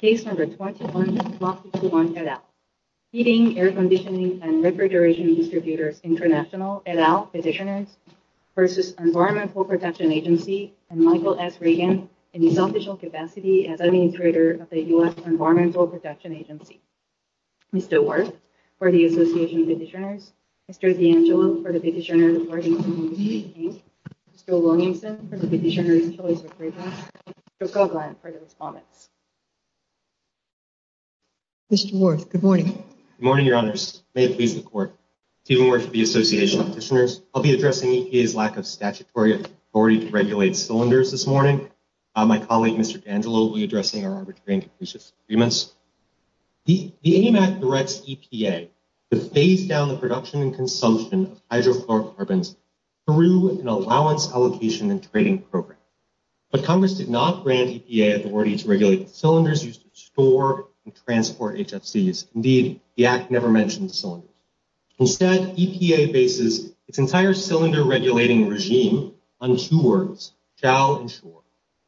Case No. 221, Block 61, et al. Heating, Air-Conditioning, & Refrigeration Distributors International, et al. petitioners v. Environmental Protection Agency, and Michael S. Reagan, in his official capacity as Administrator of the U.S. Environmental Protection Agency. Mr. Worth, for the Association of Petitioners. Mr. D'Angelo, for the Petitioner Reporting Committee. Mr. Wilmington, for the Petitioner Initiative Committee. Mr. Koglein, for his comments. Mr. Worth, good morning. Good morning, Your Honors. May it please the Court. Stephen Worth, for the Association of Petitioners. I'll be addressing EPA's lack of statutory authority to regulate cylinders this morning. My colleague, Mr. D'Angelo, will be addressing our under-trained petitioners' agreements. The AMAC directs EPA to phase down the production and consumption of hydrofluorocarbons through an allowance allocation and trading program. But Congress did not grant EPA authority to regulate cylinders used to store and transport HFCs. Indeed, the Act never mentioned cylinders. Instead, EPA bases its entire cylinder regulating regime on two words, shall and should,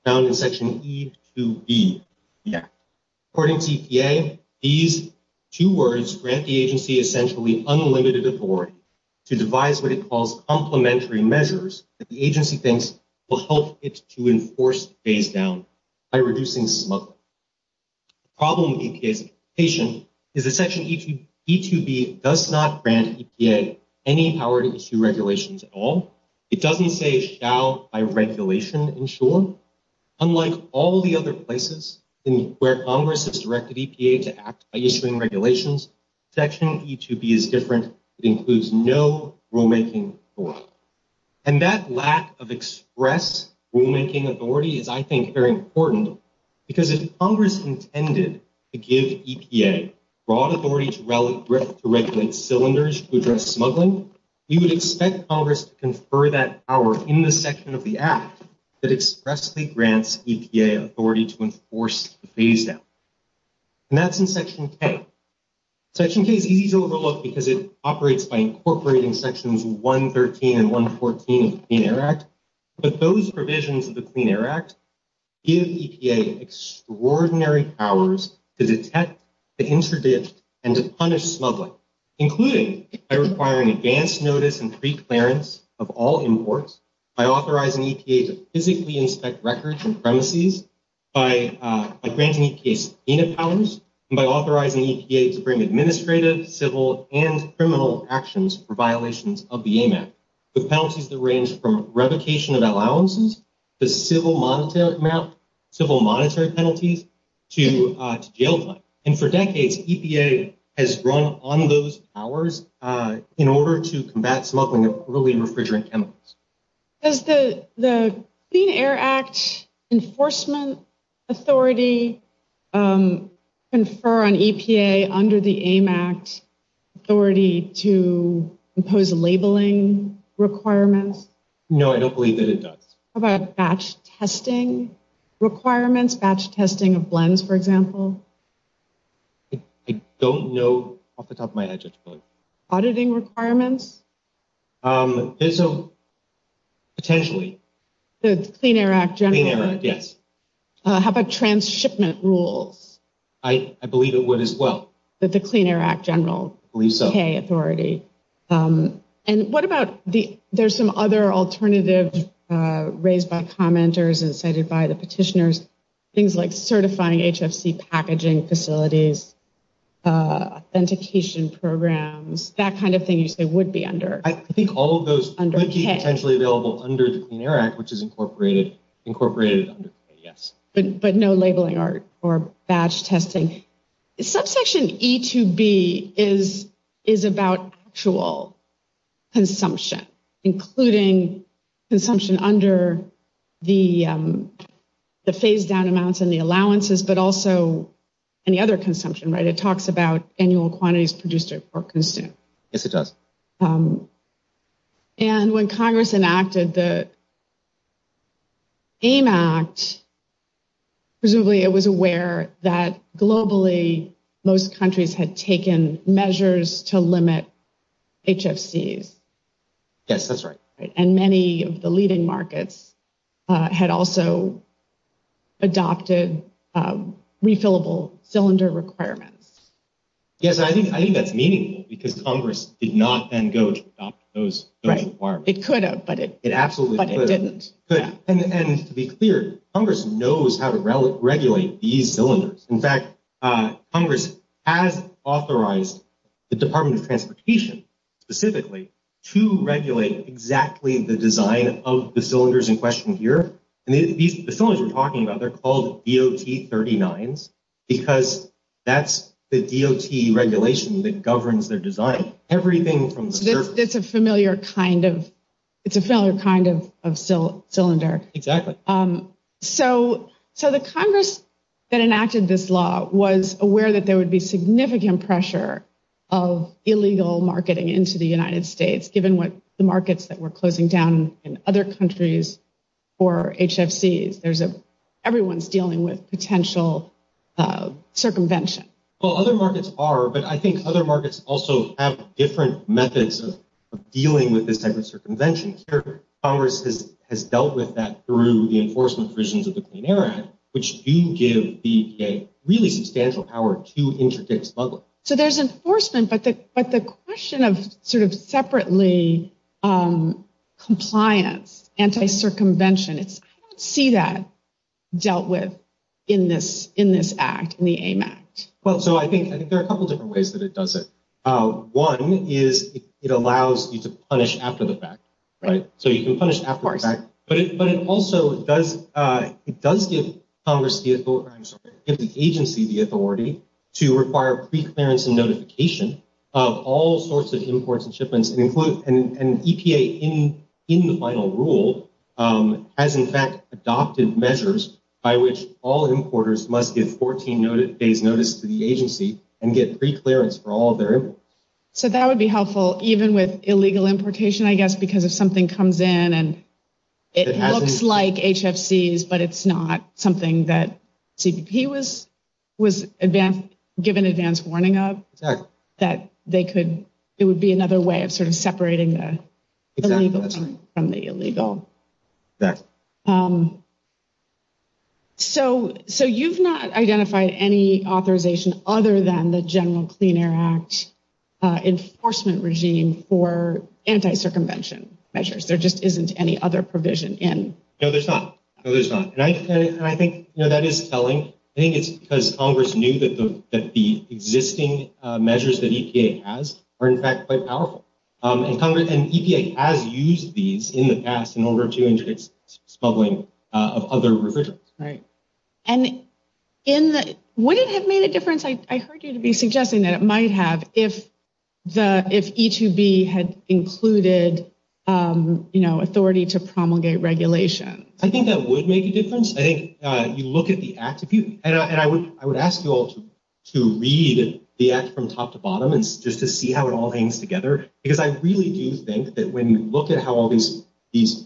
found in Section E2B of the Act. According to EPA, these two words grant the agency essentially unlimited authority to devise what it calls complementary measures that the agency thinks will help it to enforce the phase-down by reducing sluggishness. The problem with EPA's petition is that Section E2B does not grant EPA any power to issue regulations at all. It doesn't say, shall by regulation ensure. Unlike all the other places where Congress has directed EPA to act by issuing regulations, Section E2B is different. It includes no rulemaking authority. And that lack of express rulemaking authority is, I think, very important because if Congress intended to give EPA broad authority to regulate cylinders to address smuggling, we would expect Congress to confer that power in the section of the Act that expressly grants EPA authority to enforce the phase-down. And that's in Section K. Section K is easy to overlook because it operates by incorporating Sections 113 and 114 of the Clean Air Act. But those provisions of the Clean Air Act give EPA extraordinary powers to detect, to interdict, and to punish smuggling, including by requiring advance notice and preclearance of all imports, by authorizing EPA to physically inspect records and premises, by granting EPA subpoena powers, and by authorizing EPA to bring administrative, civil, and criminal actions for violations of the AMAP, with penalties that range from revocation of allowances to civil monetary penalties to jail time. And for decades, EPA has run on those powers in order to combat smuggling of early refrigerant chemicals. Does the Clean Air Act enforcement authority confer on EPA under the AMAP authority to impose labeling requirements? No, I don't believe that it does. How about batch testing requirements, batch testing of blends, for example? I don't know off the top of my head. Auditing requirements? Potentially. The Clean Air Act General? Yes. How about transshipment rules? I believe it would as well. The Clean Air Act General? I believe so. And what about, there's some other alternatives raised by commenters and cited by the petitioners, things like certifying HFC packaging facilities, authentication programs, that kind of thing they would be under. I think all of those would be potentially available under the Clean Air Act, which is incorporated under the Clean Air Act, yes. But no labeling or batch testing. Subsection E2B is about actual consumption, including consumption under the phase-down amounts and the allowances, but also any other consumption, right? It talks about annual quantities produced or consumed. Yes, it does. And when Congress enacted the AIM Act, presumably it was aware that globally most countries had taken measures to limit HFCs. Yes, that's right. And many of the leading markets had also adopted refillable cylinder requirements. Yes, I think that's meaningful because Congress did not then go to adopt those requirements. It could have, but it didn't. And to be clear, Congress knows how to regulate these cylinders. In fact, Congress has authorized the Department of Transportation specifically to regulate exactly the design of the cylinders in question here. And the cylinders you're talking about, they're called DOT 39s because that's the DOT regulation that governs their design. Everything from the surface. It's a familiar kind of cylinder. Exactly. So the Congress that enacted this law was aware that there would be significant pressure of illegal marketing into the United States, given the markets that were closing down in other countries for HFCs. Everyone's dealing with potential circumvention. Well, other markets are, but I think other markets also have different methods of dealing with this type of circumvention. And I think Congress has dealt with that through the enforcement provisions of the Clean Air Act, which do give the EPA really substantial power to interdict smugglers. So there's enforcement, but the question of sort of separately compliance, anti-circumvention, I don't see that dealt with in this act, in the AMAC. Well, so I think there are a couple different ways that it does it. One is it allows you to punish after the fact. So you can punish after the fact, but it also does give the agency the authority to require pre-clearance and notification of all sorts of imports and shipments. And EPA, in the final rule, has in fact adopted measures by which all importers must give 14 days' notice to the agency and get pre-clearance for all of their imports. So that would be helpful, even with illegal importation, I guess, because if something comes in and it looks like HFCs, but it's not something that CBP was given advance warning of, that they could, it would be another way of sort of separating the illegal from the illegal. So you've not identified any authorization other than the General Clean Air Act enforcement regime for anti-circumvention measures. There just isn't any other provision in. No, there's not. No, there's not. No, that is telling. I think it's because Congress knew that the existing measures that EPA has are in fact quite powerful. And EPA has used these in the past in order to introduce smuggling of other refrigerants. And would it have made a difference, I heard you to be suggesting that it might have, if E2B had included authority to promulgate regulation? I think that would make a difference. I think you look at the act, and I would ask you all to read the act from top to bottom just to see how it all hangs together. Because I really do think that when you look at how all these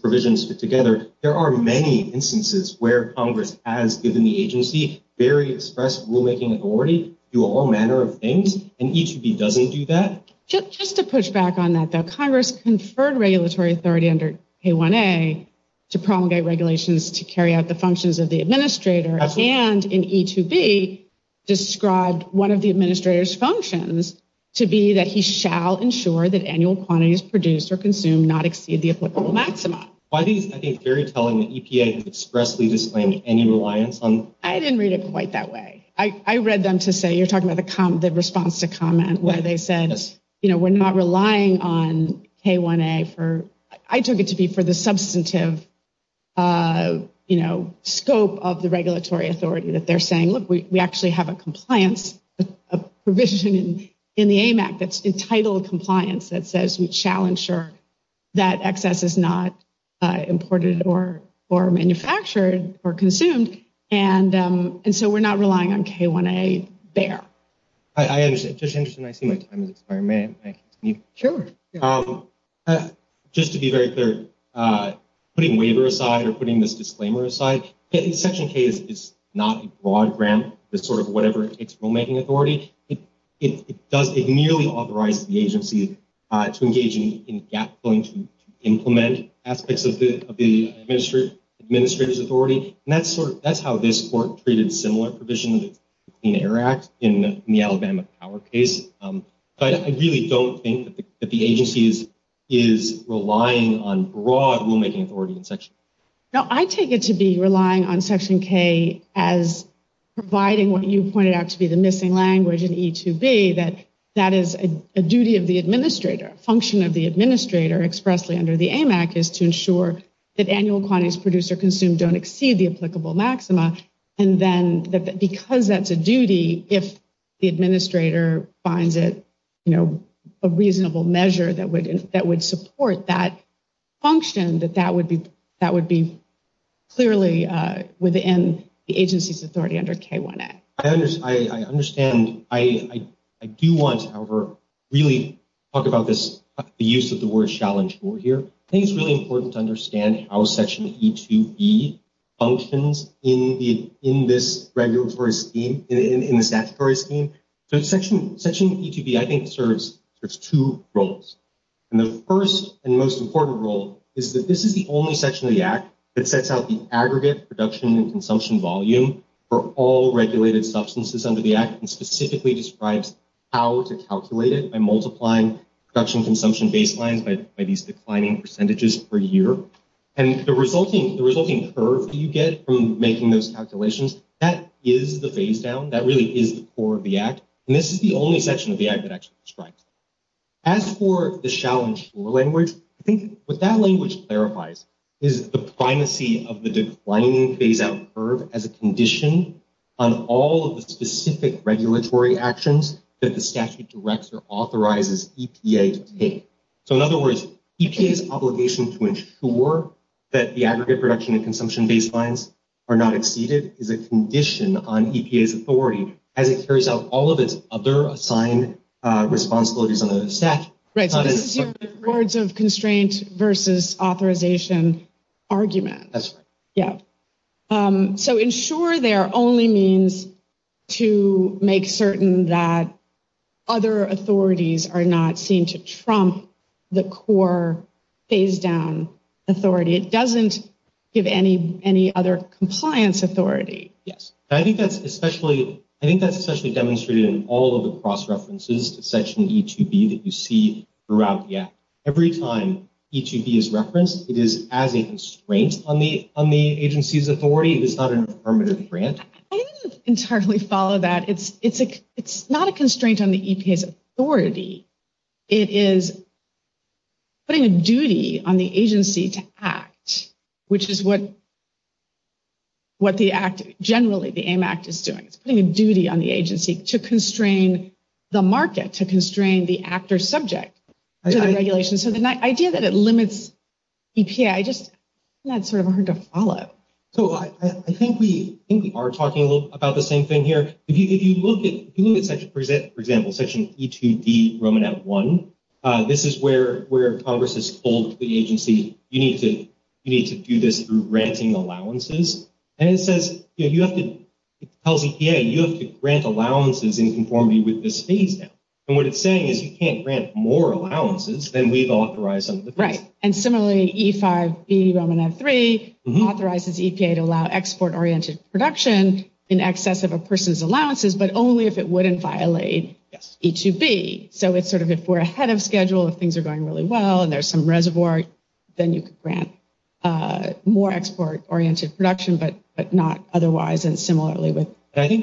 provisions fit together, there are many instances where Congress has given the agency very express rulemaking authority to all manner of things, and E2B doesn't do that. Just to push back on that, though, Congress conferred regulatory authority under K1A to promulgate regulations to carry out the functions of the administrator, and in E2B described one of the administrator's functions to be that he shall ensure that annual quantities produced or consumed not exceed the applicable maximum. Why do you think they're telling EPA to expressly display any reliance on them? I didn't read it quite that way. I read them to say, you're talking about the response to comment where they said, you know, we're not relying on K1A for, I took it to be for the substantive, you know, scope of the regulatory authority that they're saying, look, we actually have a compliance provision in the AMAC that's entitled compliance that says we shall ensure that excess is not imported or manufactured or consumed, and so we're not relying on K1A there. Just to be very clear, putting waiver aside or putting this disclaimer aside, Section K is not a broad grant that sort of whatever it takes rulemaking authority. It does, it merely authorizes the agency to engage in gap-filling to implement aspects of the administrator's authority, and that's sort of, that's how this court treated a similar provision in ARAC in the Alabama power case, but I really don't think that the agency is relying on broad rulemaking authority in Section K. Now, I take it to be relying on Section K as providing what you pointed out to be the missing language in E2B that that is a duty of the administrator, function of the administrator expressly under the AMAC is to ensure that annual quantities produced or consumed don't exceed the applicable maxima, and then because that's a duty, if the administrator finds it, you know, a reasonable measure that would support that function, that that would be clearly within the agency's authority under K1A. I understand. I do want to, however, really talk about this, the use of the word challenge rule here. I think it's really important to understand how Section E2B functions in this regulatory scheme, in this statutory scheme. So Section E2B, I think, serves two roles, and the first and most important role is that this is the only section of the Act that sets out the aggregate production and consumption volume for all regulated substances under the Act and specifically describes how to calculate it by multiplying production consumption baseline by these declining percentages per year, and the resulting curve that you get from making those calculations, that is the phase-down. That really is for the Act, and this is the only section of the Act that actually describes it. As for the shall-ensure language, I think what that language clarifies is the primacy of the declining phase-out curve as a condition on all of the specific regulatory actions that the statute directs or authorizes EPA to take. So in other words, EPA's obligation to ensure that the aggregate production and consumption baselines are not exceeded is a condition on EPA's authority as it carries out all of its other assigned responsibilities under the statute. Right, so this is your rewards of constraints versus authorization argument. That's right. So ensure there only means to make certain that other authorities are not seen to trump the core phase-down authority. It doesn't give any other compliance authority. Yes. I think that's especially demonstrated in all of the cross-references section of E2B that you see throughout the Act. Every time E2B is referenced, it is as a constraint on the agency's authority. It's not an affirmative grant. I didn't entirely follow that. It's not a constraint on the EPA's authority. It is putting a duty on the agency to act, which is what the Act, generally the AIM Act, is doing. It's putting a duty on the agency to constrain the market, to constrain the actor subject to the regulations. So the idea that it limits EPA, I just, that's sort of hard to follow. I think we are talking a little bit about the same thing here. If you look at, for example, section E2B Romanat 1, this is where Congress has told the agency, you need to do this through granting allowances. And it says, you have to, it tells EPA, you have to grant allowances in conformity with the stadium. And what it's saying is you can't grant more allowances than we've authorized under the Act. Right. And similarly, E5B Romanat 3 authorizes EPA to allow export-oriented production in excess of a person's allowances, but only if it wouldn't violate E2B. So it's sort of, if we're ahead of schedule, if things are going really well and there's some reservoir, then you could grant more export-oriented production, but not otherwise. I think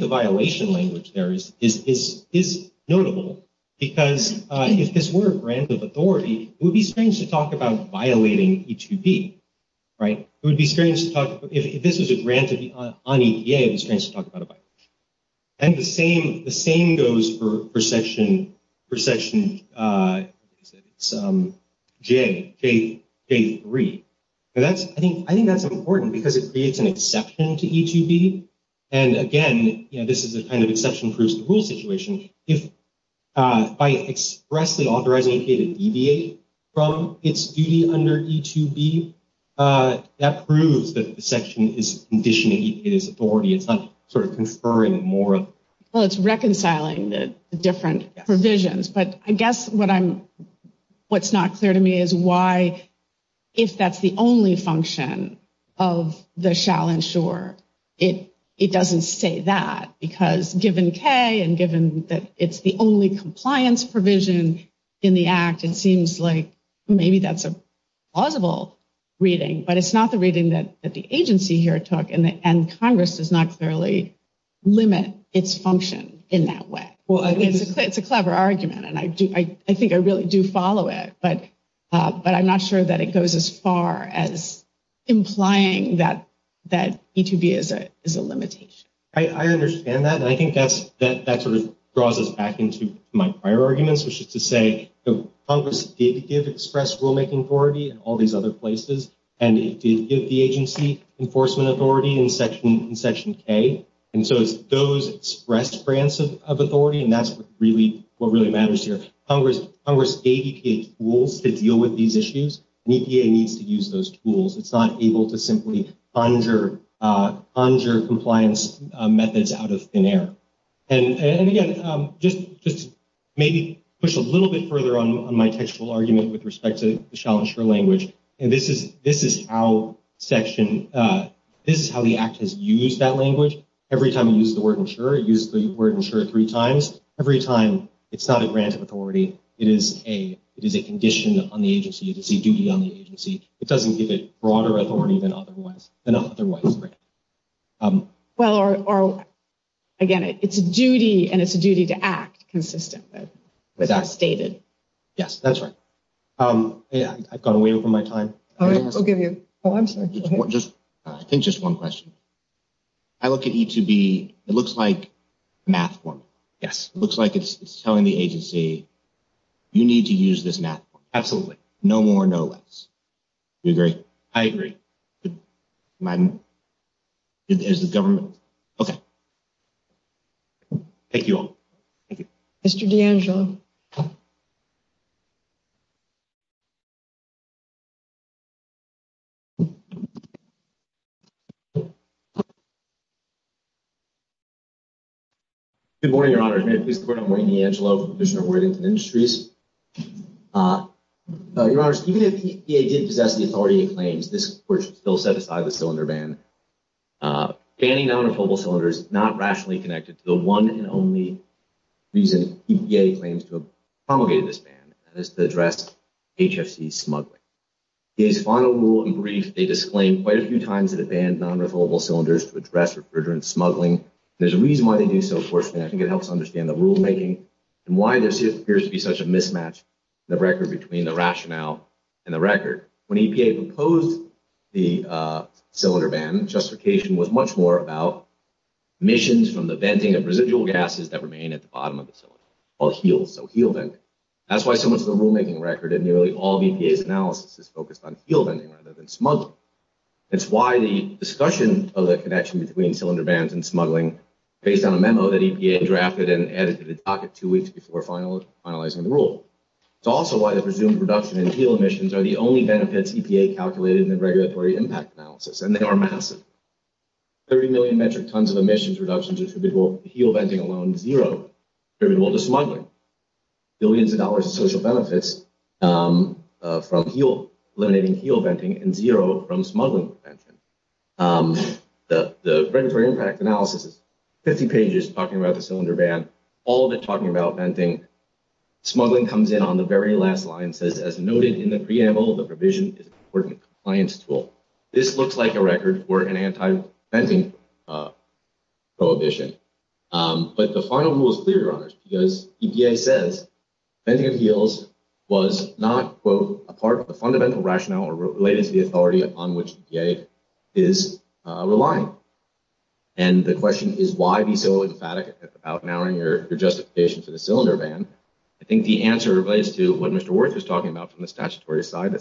the violation language there is notable, because if this were a grant of authority, it would be strange to talk about violating E2B. Right. It would be strange to talk, if this was a grant on EPA, it would be strange to talk about a violation. And the same goes for section J3. I think that's important, because it creates an exception to E2B. And again, this is a kind of exception proves the rule situation. By expressing, authorizing EPA to deviate from its duty under E2B, that proves that the section is conditioning EPA's authority. It's not sort of conferring it more. Well, it's reconciling the different provisions. But I guess what's not clear to me is why, if that's the only function of the shall ensure, it doesn't say that. Because given K and given that it's the only compliance provision in the Act, it seems like maybe that's a plausible reading. But it's not the reading that the agency here took, and Congress does not clearly limit its function in that way. Well, it's a clever argument, and I think I really do follow it. But I'm not sure that it goes as far as implying that E2B is a limitation. I understand that, and I think that sort of draws us back into my prior arguments, which is to say Congress did give express rulemaking authority in all these other places. And it did give the agency enforcement authority in section K. And so it's those express grants of authority, and that's what really matters here. Congress dedicated tools to deal with these issues. EPA needs to use those tools. It's not able to simply ponder compliance methods out of thin air. And again, just maybe push a little bit further on my textual argument with respect to the shall ensure language. This is how the Act has used that language. Every time it used the word ensure, it used the word ensure three times. Every time it's not a grant of authority, it is a condition on the agency. It's a duty on the agency. It doesn't give a broader authority than otherwise. Well, again, it's a duty, and it's a duty to act consistently. That's stated. Yes, that's right. Yeah, I've gone way over my time. All right, we'll give you one second. I think just one question. I look at E2B. It looks like math one. Yes. It looks like it's telling the agency, you need to use this math one. Absolutely. No more, no less. Do you agree? I agree. As the government. Okay. Thank you all. Thank you. Mr. D'Angelo. Mr. D'Angelo. Good morning, Your Honor. My name is D'Angelo. I'm the Commissioner of Warrants and Industries. Your Honor, even if EPA did possess the authority claims, this would still satisfy the cylinder ban. Banning non-refillable cylinders is not rationally connected to the one and only reason EPA claims to have promulgated this ban, and that is to address HFC smuggling. EPA's final rule in brief, they just claimed quite a few times that it bans non-refillable cylinders to address refrigerant smuggling. There's a reason why they think so, of course, and I think it helps understand the rulemaking and why there appears to be such a mismatch in the record between the rationale and the record. When EPA proposed the cylinder ban, justification was much more about emissions from the venting of residual gases that remain at the bottom of the cylinder, or heels, so heel venting. That's why so much of the rulemaking record in nearly all of EPA's analysis is focused on heel venting rather than smuggling. That's why the discussion of the connection between cylinder bans and smuggling based on a memo that EPA drafted and added to the docket two weeks before finalizing the rule. It's also why the presumed reduction in heel emissions are the only benefits EPA calculated in the regulatory impact analysis, and they are massive. Thirty million metric tons of emissions reduction due to heel venting alone, zero, attributable to smuggling. Billions of dollars in social benefits from eliminating heel venting, and zero from smuggling with venting. The regulatory impact analysis is 50 pages talking about the cylinder ban, all of it talking about venting. Smuggling comes in on the very last line and says, as noted in the preamble, the provision is an important compliance tool. This looks like a record for an anti-venting prohibition. But the final rule is clear on this because EPA says venting of heels was not, quote, a part of the fundamental rationale related to the authority upon which EPA is relying. And the question is why be so emphatic about narrowing your justification for the cylinder ban? I think the answer relates to what Mr. Warrick was talking about from the statutory side.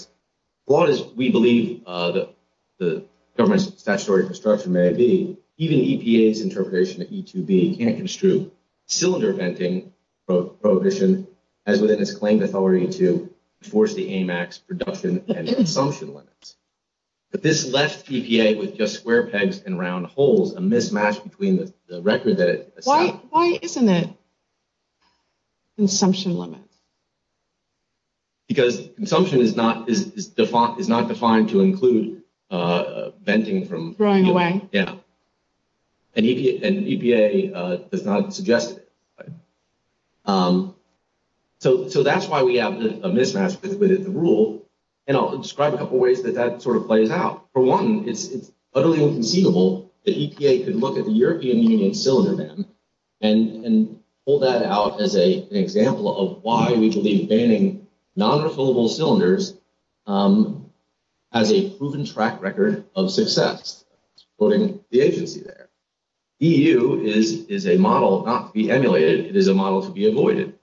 What we believe the government's statutory discretion may be, even EPA's interpretation of E2B can't construe cylinder venting prohibition as within its claim authority to enforce the AMAX production and consumption limits. But this left EPA with just square pegs and round holes, a mismatch between the record that it- Why isn't it consumption limits? Because consumption is not defined to include venting from- Throwing away. Yeah. And EPA does not suggest it. So that's why we have a mismatch with this rule. And I'll describe a couple ways that that sort of plays out. For one, it's utterly inconceivable that EPA could look at the European Union cylinder ban and pull that out as an example of why we could be banning non-refillable cylinders as a proven track record of success, including the agency there. EU is a model not to be emulated. It is a model to be avoided.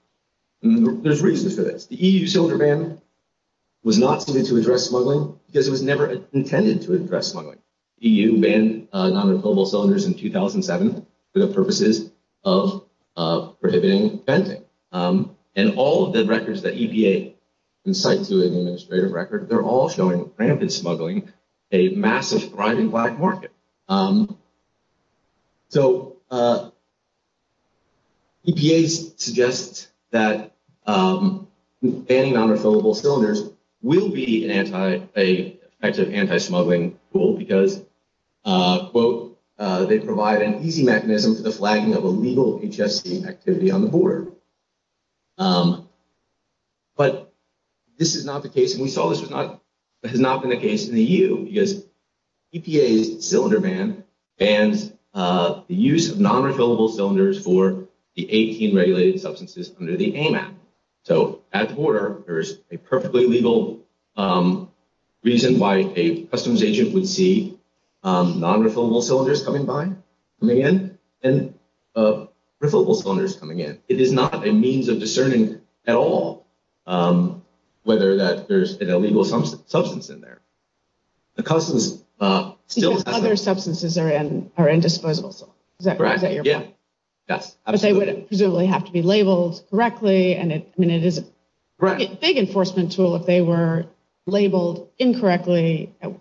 And there's reasons for this. The EU cylinder ban was not put into address smuggling because it was never intended to address smuggling. EU banned non-refillable cylinders in 2007 for the purposes of prohibiting venting. And all of the records that EPA can cite through the administrative record, they're all showing that venting smuggling is a massive crime in black market. So EPA suggests that banning non-refillable cylinders will be an anti- because, quote, they provide an easy mechanism for the flagging of a legal HSE activity on the board. But this is not the case, and we saw this was not, this has not been the case in the EU because EPA's cylinder ban bans the use of non-refillable cylinders for the 18 regulated substances under the AMAP. So at the border, there is a perfectly legal reason why a customization would see non-refillable cylinders coming by from the end and refillable cylinders coming in. It is not a means of discerning at all whether that there's an illegal substance in there. Other substances are in disposable. But they would presumably have to be labeled correctly. And it is a big enforcement tool if they were labeled incorrectly. It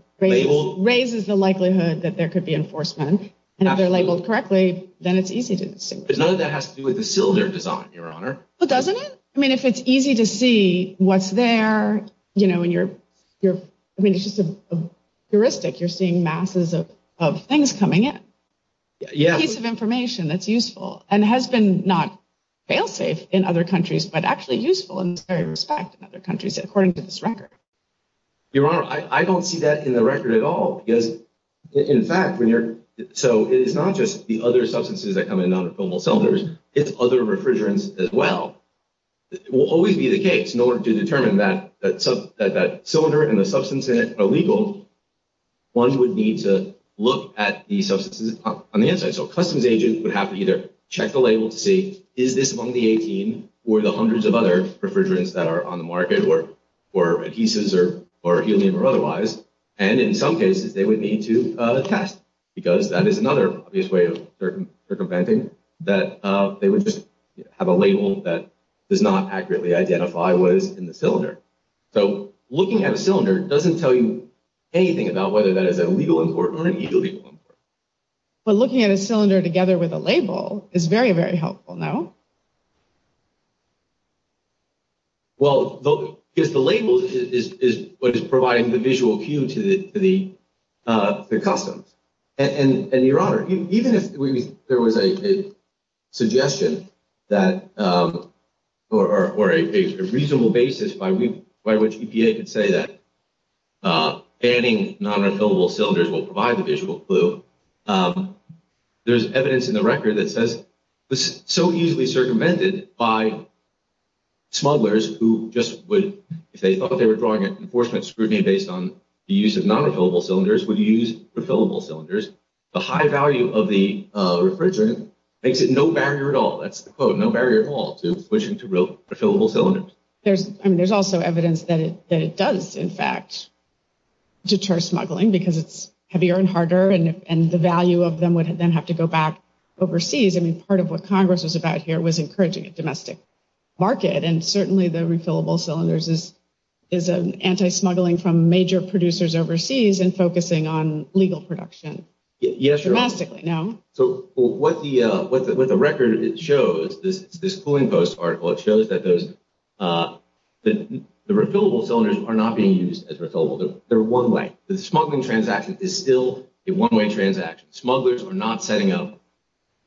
raises the likelihood that there could be enforcement. And if they're labeled correctly, then it's easy to see. But none of that has to do with the cylinder design, Your Honor. But doesn't it? I mean, if it's easy to see what's there, you know, it's a piece of information that's useful and has been not fail-safe in other countries, but actually useful in very respect in other countries according to this record. Your Honor, I don't see that in the record at all. In fact, so it's not just the other substances that come in non-refillable cylinders, it's other refrigerants as well. It will always be the case in order to determine that cylinder and the substance in it are legal, one would need to look at the substances on the inside. So customs agents would have to either check the label to see, is this one of the 18 or the hundreds of other refrigerants that are on the market or adhesives or helium or otherwise. And in some cases, they would need to test. Because that is another obvious way of circumventing that they would just have a label that does not accurately identify what is in the cylinder. So looking at a cylinder doesn't tell you anything about whether that is a legal import or a legal import. But looking at a cylinder together with a label is very, very helpful, no? Well, if the label is what is providing the visual cue to the customs, and Your Honor, even if there was a suggestion that, or a reasonable basis by which EPA could say that banning non-refillable cylinders will provide the visual clue, there's evidence in the record that says, this is so easily circumvented by smugglers who just would say, oh, they were drawing an enforcement scrutiny based on the use of non-refillable cylinders, we used refillable cylinders. The high value of the refrigerant makes it no barrier at all. That's the quote, no barrier at all to switching to refillable cylinders. There's also evidence that it does, in fact, deter smuggling, because it's heavier and harder, and the value of them would then have to go back overseas. I mean, part of what Congress is about here was encouraging a domestic market, and certainly the refillable cylinders is anti-smuggling from major producers overseas and focusing on legal production. Yes, Your Honor. Dramatically, no? So what the record shows, this pulling post article, it shows that the refillable cylinders are not being used as refillables. They're one-way. The smuggling transaction is still a one-way transaction. Smugglers are not setting up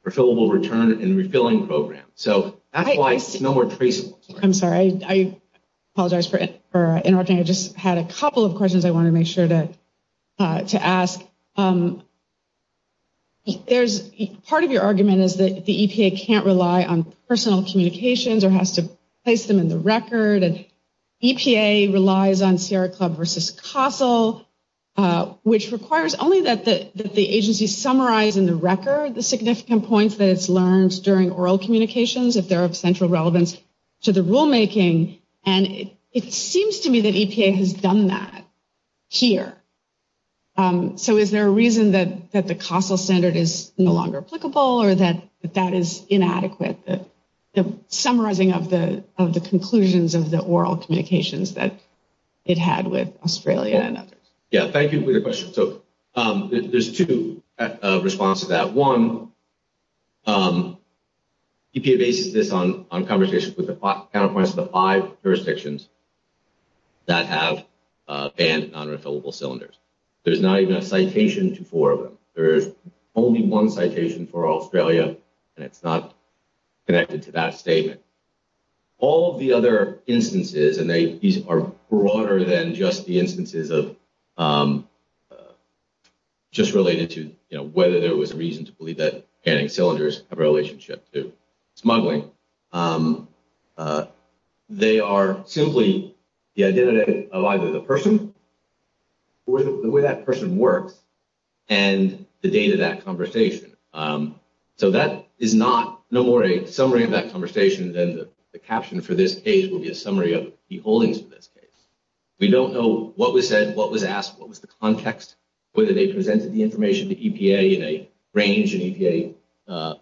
refillable return and refilling programs. So that's why it's no more traceable. I'm sorry. I apologize for interrupting. I just had a couple of questions I wanted to make sure to ask. Part of your argument is that the EPA can't rely on personal communications or has to place them in the record, and EPA relies on Sierra Club versus CASEL, which requires only that the agency summarize in the record the significant points that it's learned during oral communications if they're of central relevance to the rulemaking, and it seems to me that EPA has done that here. So is there a reason that the CASEL standard is no longer applicable or that that is inadequate, the summarizing of the conclusions of the oral communications that it had with Australia? Yes. Thank you for your question. So there's two responses to that. One, EPA bases this on conversations with the counterparts of the five jurisdictions that have bans on refillable cylinders. There's not even a citation to four of them. There is only one citation for Australia, and it's not connected to that statement. All of the other instances, and these are broader than just the instances of just related to, you know, whether there was a reason to believe that canning cylinders have a relationship to smuggling. They are simply the identity of either the person, the way that person works, and the date of that conversation. So that is no more a summary of that conversation than the caption for this case will be a summary of the holdings of this case. We don't know what was said, what was asked, what was the context, whether they presented the information to EPA in a range, and EPA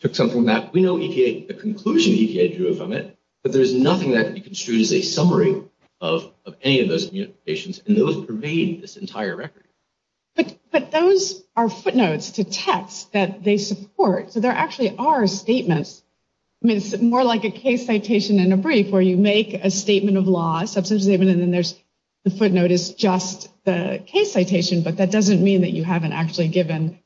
took something back. We know the conclusion EPA drew from it, but there's nothing that can be construed as a summary of any of those communications, and it doesn't pervade this entire record. But those are footnotes to text that they support, so there actually are statements. I mean, it's more like a case citation in a brief where you make a statement of law, and then the footnote is just the case citation, but that doesn't mean that you haven't actually given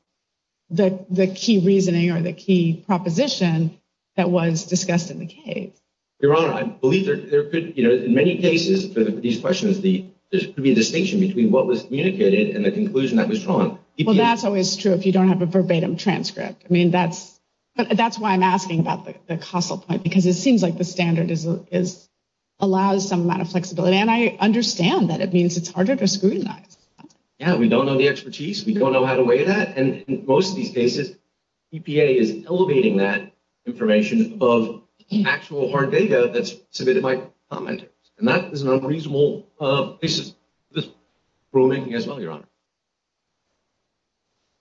the key reasoning or the key proposition that was discussed in the case. Your Honor, I believe there could, you know, in many cases for these questions, there could be a distinction between what was communicated and the conclusion that was drawn. Well, that's always true if you don't have a verbatim transcript. I mean, that's why I'm asking about the causal point, because it seems like the standard allows some amount of flexibility, and I understand that it means it's harder to scrutinize. Yeah, we don't know the expertise. We don't know how to weigh that, and in most of these cases, EPA is elevating that information above the actual hard data that's submitted by the commenter, and that is a reasonable basis for this rulemaking as well, Your Honor.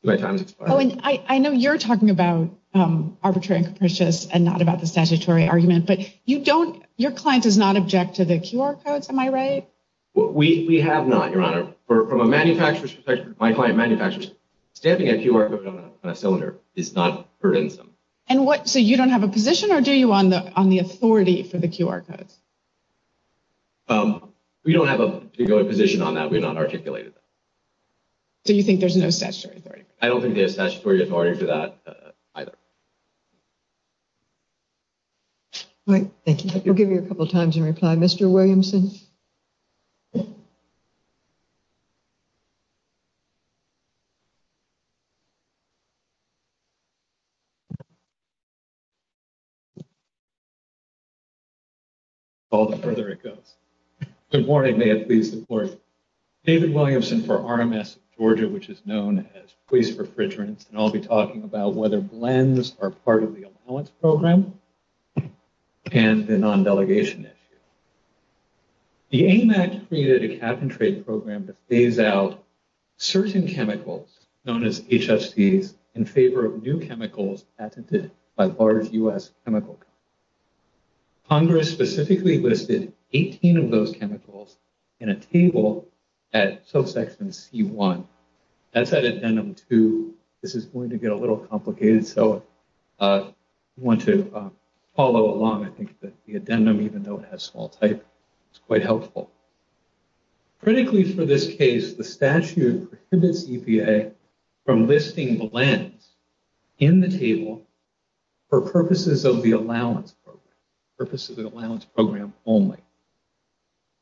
Oh, and I know you're talking about arbitrary and capricious and not about the statutory argument, but you don't – your client does not object to the QR codes, am I right? We have not, Your Honor. From a manufacturer's perspective, my client manufacturer's, stamping a QR code on a cylinder is not burdensome. And what – so you don't have a position, or do you, on the authority for the QR code? We don't have a particular position on that. We've not articulated that. So you think there's no statutory authority? I don't think there's statutory authority for that either. All right, thank you. We'll give you a couple times in reply. Mr. Williamson? Good morning. May I please report? David Williamson for RMS Georgia, which is known as Police Refrigerant, and I'll be talking about whether blends are part of the allowance program. And the non-delegation issue. The AMAC created a cap and trade program that pays out certain chemicals, known as HFCs, in favor of new chemicals patented by large U.S. chemical companies. Congress specifically listed 18 of those chemicals in a table at SOSEX and C1. That's at a ten of two. This is going to get a little complicated, so if you want to follow along, I think the addendum, even though it has small type, is quite helpful. Critically for this case, the statute prohibits EPA from listing blends in the table for purposes of the allowance program only.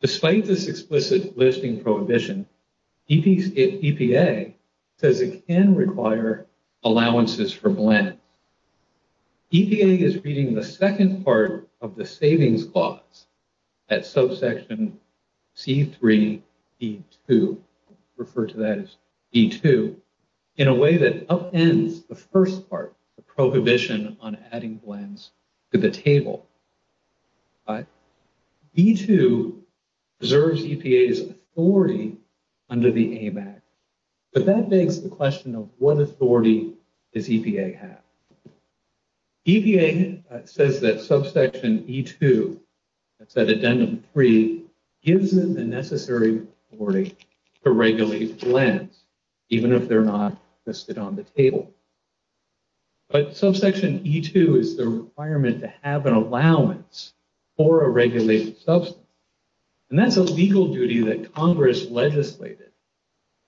Despite this explicit listing prohibition, EPA says it can require allowances for blends. EPA is reading the second part of the savings clause at subsection C3E2, refers to that as E2, in a way that upends the first part, the prohibition on adding blends to the table. E2 reserves EPA's authority under the AMAC, but that begs the question of what authority does EPA have? EPA says that subsection E2, that's at addendum 3, gives them the necessary authority to regulate blends, even if they're not listed on the table. But subsection E2 is the requirement to have an allowance for a regulated substance, and that's a legal duty that Congress legislated,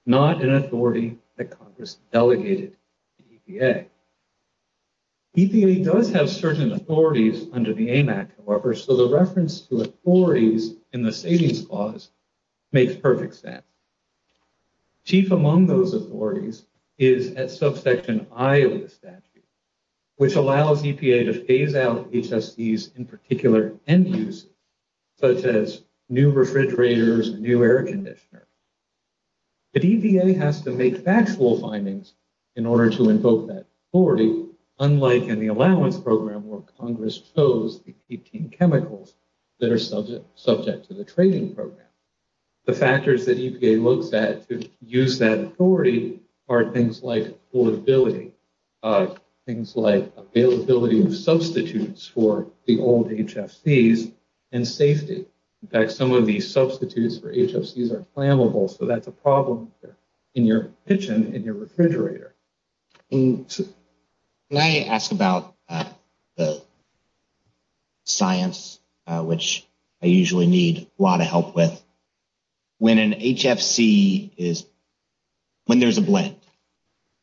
not an authority that Congress delegated to EPA. EPA does have certain authorities under the AMAC, however, so the reference to authorities in the savings clause makes perfect sense. Chief among those authorities is at subsection I of the statute, which allows EPA to phase out HSDs in particular end uses, such as new refrigerators and new air conditioners. But EPA has to make factual findings in order to invoke that authority, unlike in the allowance program where Congress chose to keep chemicals that are subject to the trading program. The factors that EPA looks at to use that authority are things like affordability, things like availability of substitutes for the old HSDs, and safety. In fact, some of these substitutes for HSDs are flammable, so that's a problem in your kitchen, in your refrigerator. Can I ask about the science, which I usually need a lot of help with? When an HFC is, when there's a blend,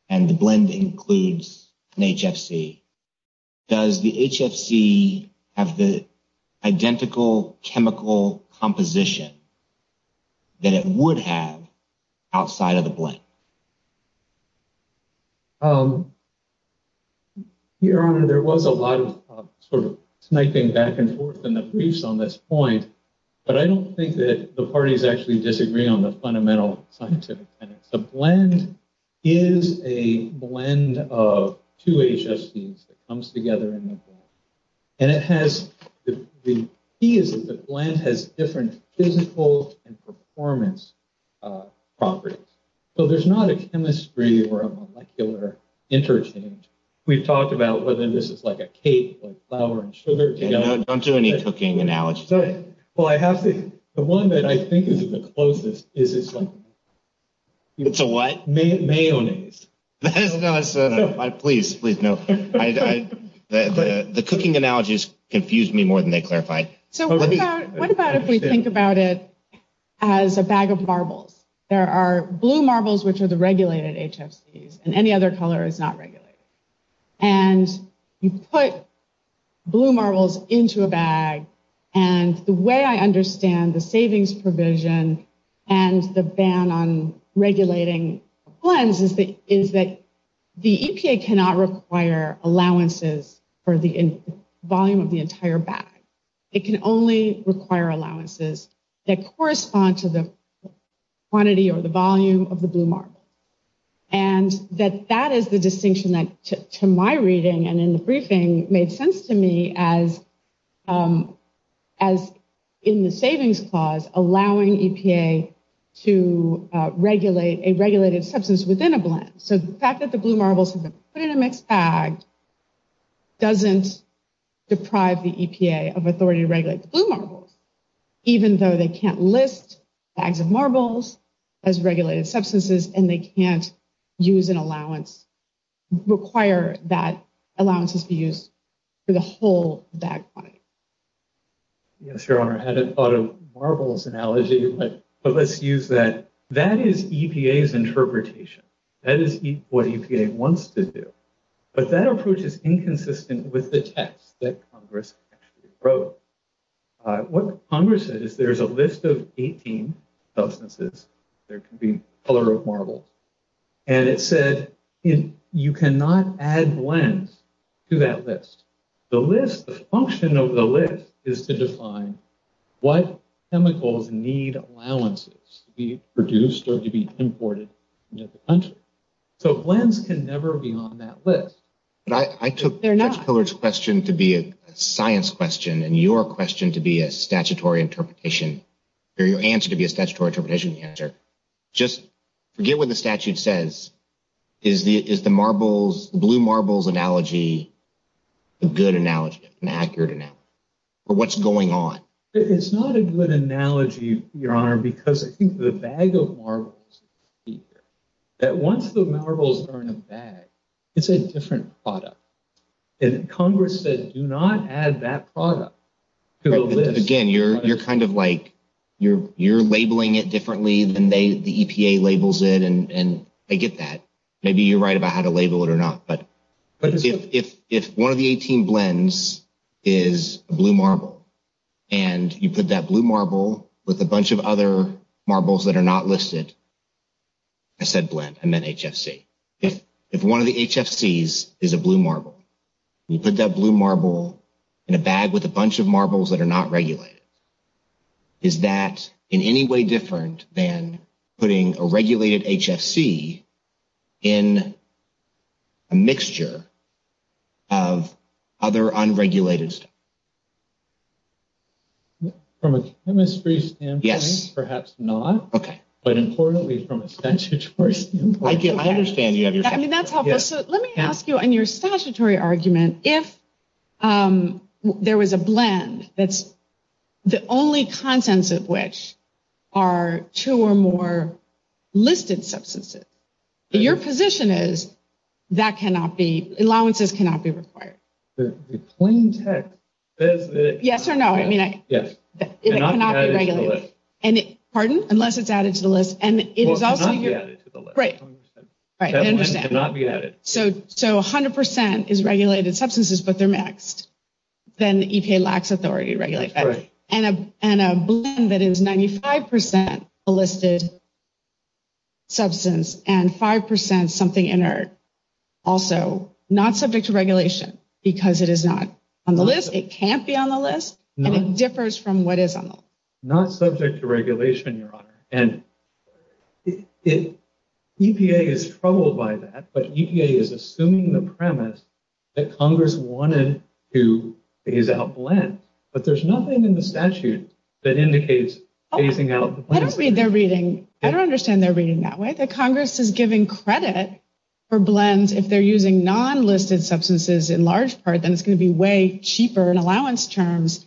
and the blend includes an HFC, does the HFC have the identical chemical composition that it would have outside of the blend? Your Honor, there was a lot of sort of sniping back and forth in the briefs on this point, but I don't think that the parties actually disagree on the fundamental content. The blend is a blend of two HFCs that comes together in the blend. And it has, the key is that the blend has different physical and performance properties. So there's not a chemistry or a molecular interchange. We've talked about whether this is like a cake of flour and sugar together. I'm doing a cooking analogy. Well, I have to, the one that I think is the closest is it's a... It's a what? Mayonnaise. No, no, no, please, please, no. The cooking analogies confuse me more than they clarify. So what about if they think about it as a bag of marbles? There are blue marbles, which are the regulated HFCs, and any other color is not regulated. And you put blue marbles into a bag. And the way I understand the savings provision and the ban on regulating blends is that the EPA cannot require allowances for the volume of the entire bag. It can only require allowances that correspond to the quantity or the volume of the blue marble. And that is the distinction that, to my reading and in the briefing, made sense to me as in the savings clause, allowing EPA to regulate a regulated substance within a blend. So the fact that the blue marbles have been put in a mixed bag doesn't deprive the EPA of authority to regulate the blue marbles, even though they can't list bags of marbles as regulated substances and they can't use an allowance, require that allowances be used for the whole bag quantity. Yeah, sure. I haven't thought of marbles analogy, but let's use that. That is EPA's interpretation. That is what EPA wants to do. But that approach is inconsistent with the text that Congress actually wrote. What Congress said is there's a list of 18 substances. There can be a color of marble. And it said you cannot add blends to that list. The function of the list is to define what chemicals need allowances to be produced or to be imported into the country. So blends can never be on that list. I took their next question to be a science question and your question to be a statutory interpretation, or your answer to be a statutory interpretation. Just get what the statute says. Is the marbles, blue marbles analogy a good analogy, an accurate analogy? Or what's going on? It's not a good analogy, Your Honor, because I think the bag of marbles is cheaper. That once the marbles are in a bag, it's a different product. And Congress said do not add that product to a list. Again, you're kind of like, you're labeling it differently than the EPA labels it, and I get that. Maybe you're right about how to label it or not. But if one of the 18 blends is blue marble, and you put that blue marble with a bunch of other marbles that are not listed, I said blend, I meant HFC. If one of the HFCs is a blue marble, you put that blue marble in a bag with a bunch of marbles that are not regulated, is that in any way different than putting a regulated HFC in a mixture of other unregulated stuff? From a chemistry standpoint, perhaps not. Okay. But importantly, from a statutory standpoint. I understand you. I mean, that's helpful. So let me ask you, in your statutory argument, if there was a blend that's the only contents of which are two or more listed substances, your position is that allowances cannot be required? The plain text says that... Yes or no? It cannot be regulated. It cannot be added to the list. Pardon? Unless it's added to the list. It cannot be added to the list. Right. I understand. It cannot be added. So 100% is regulated substances, but they're mixed. Then EPA lacks authority to regulate that. Right. And a blend that is 95% listed substance and 5% something inert, also not subject to regulation because it is not on the list, it can't be on the list, and it differs from what is on the list. Not subject to regulation, Your Honor, and EPA is troubled by that, but EPA is assuming the premise that Congress wanted to phase out blends, but there's nothing in the statute that indicates phasing out the blends. I don't read their reading. I don't understand their reading that way. That Congress is giving credit for blends if they're using non-listed substances in large part, then it's going to be way cheaper in allowance terms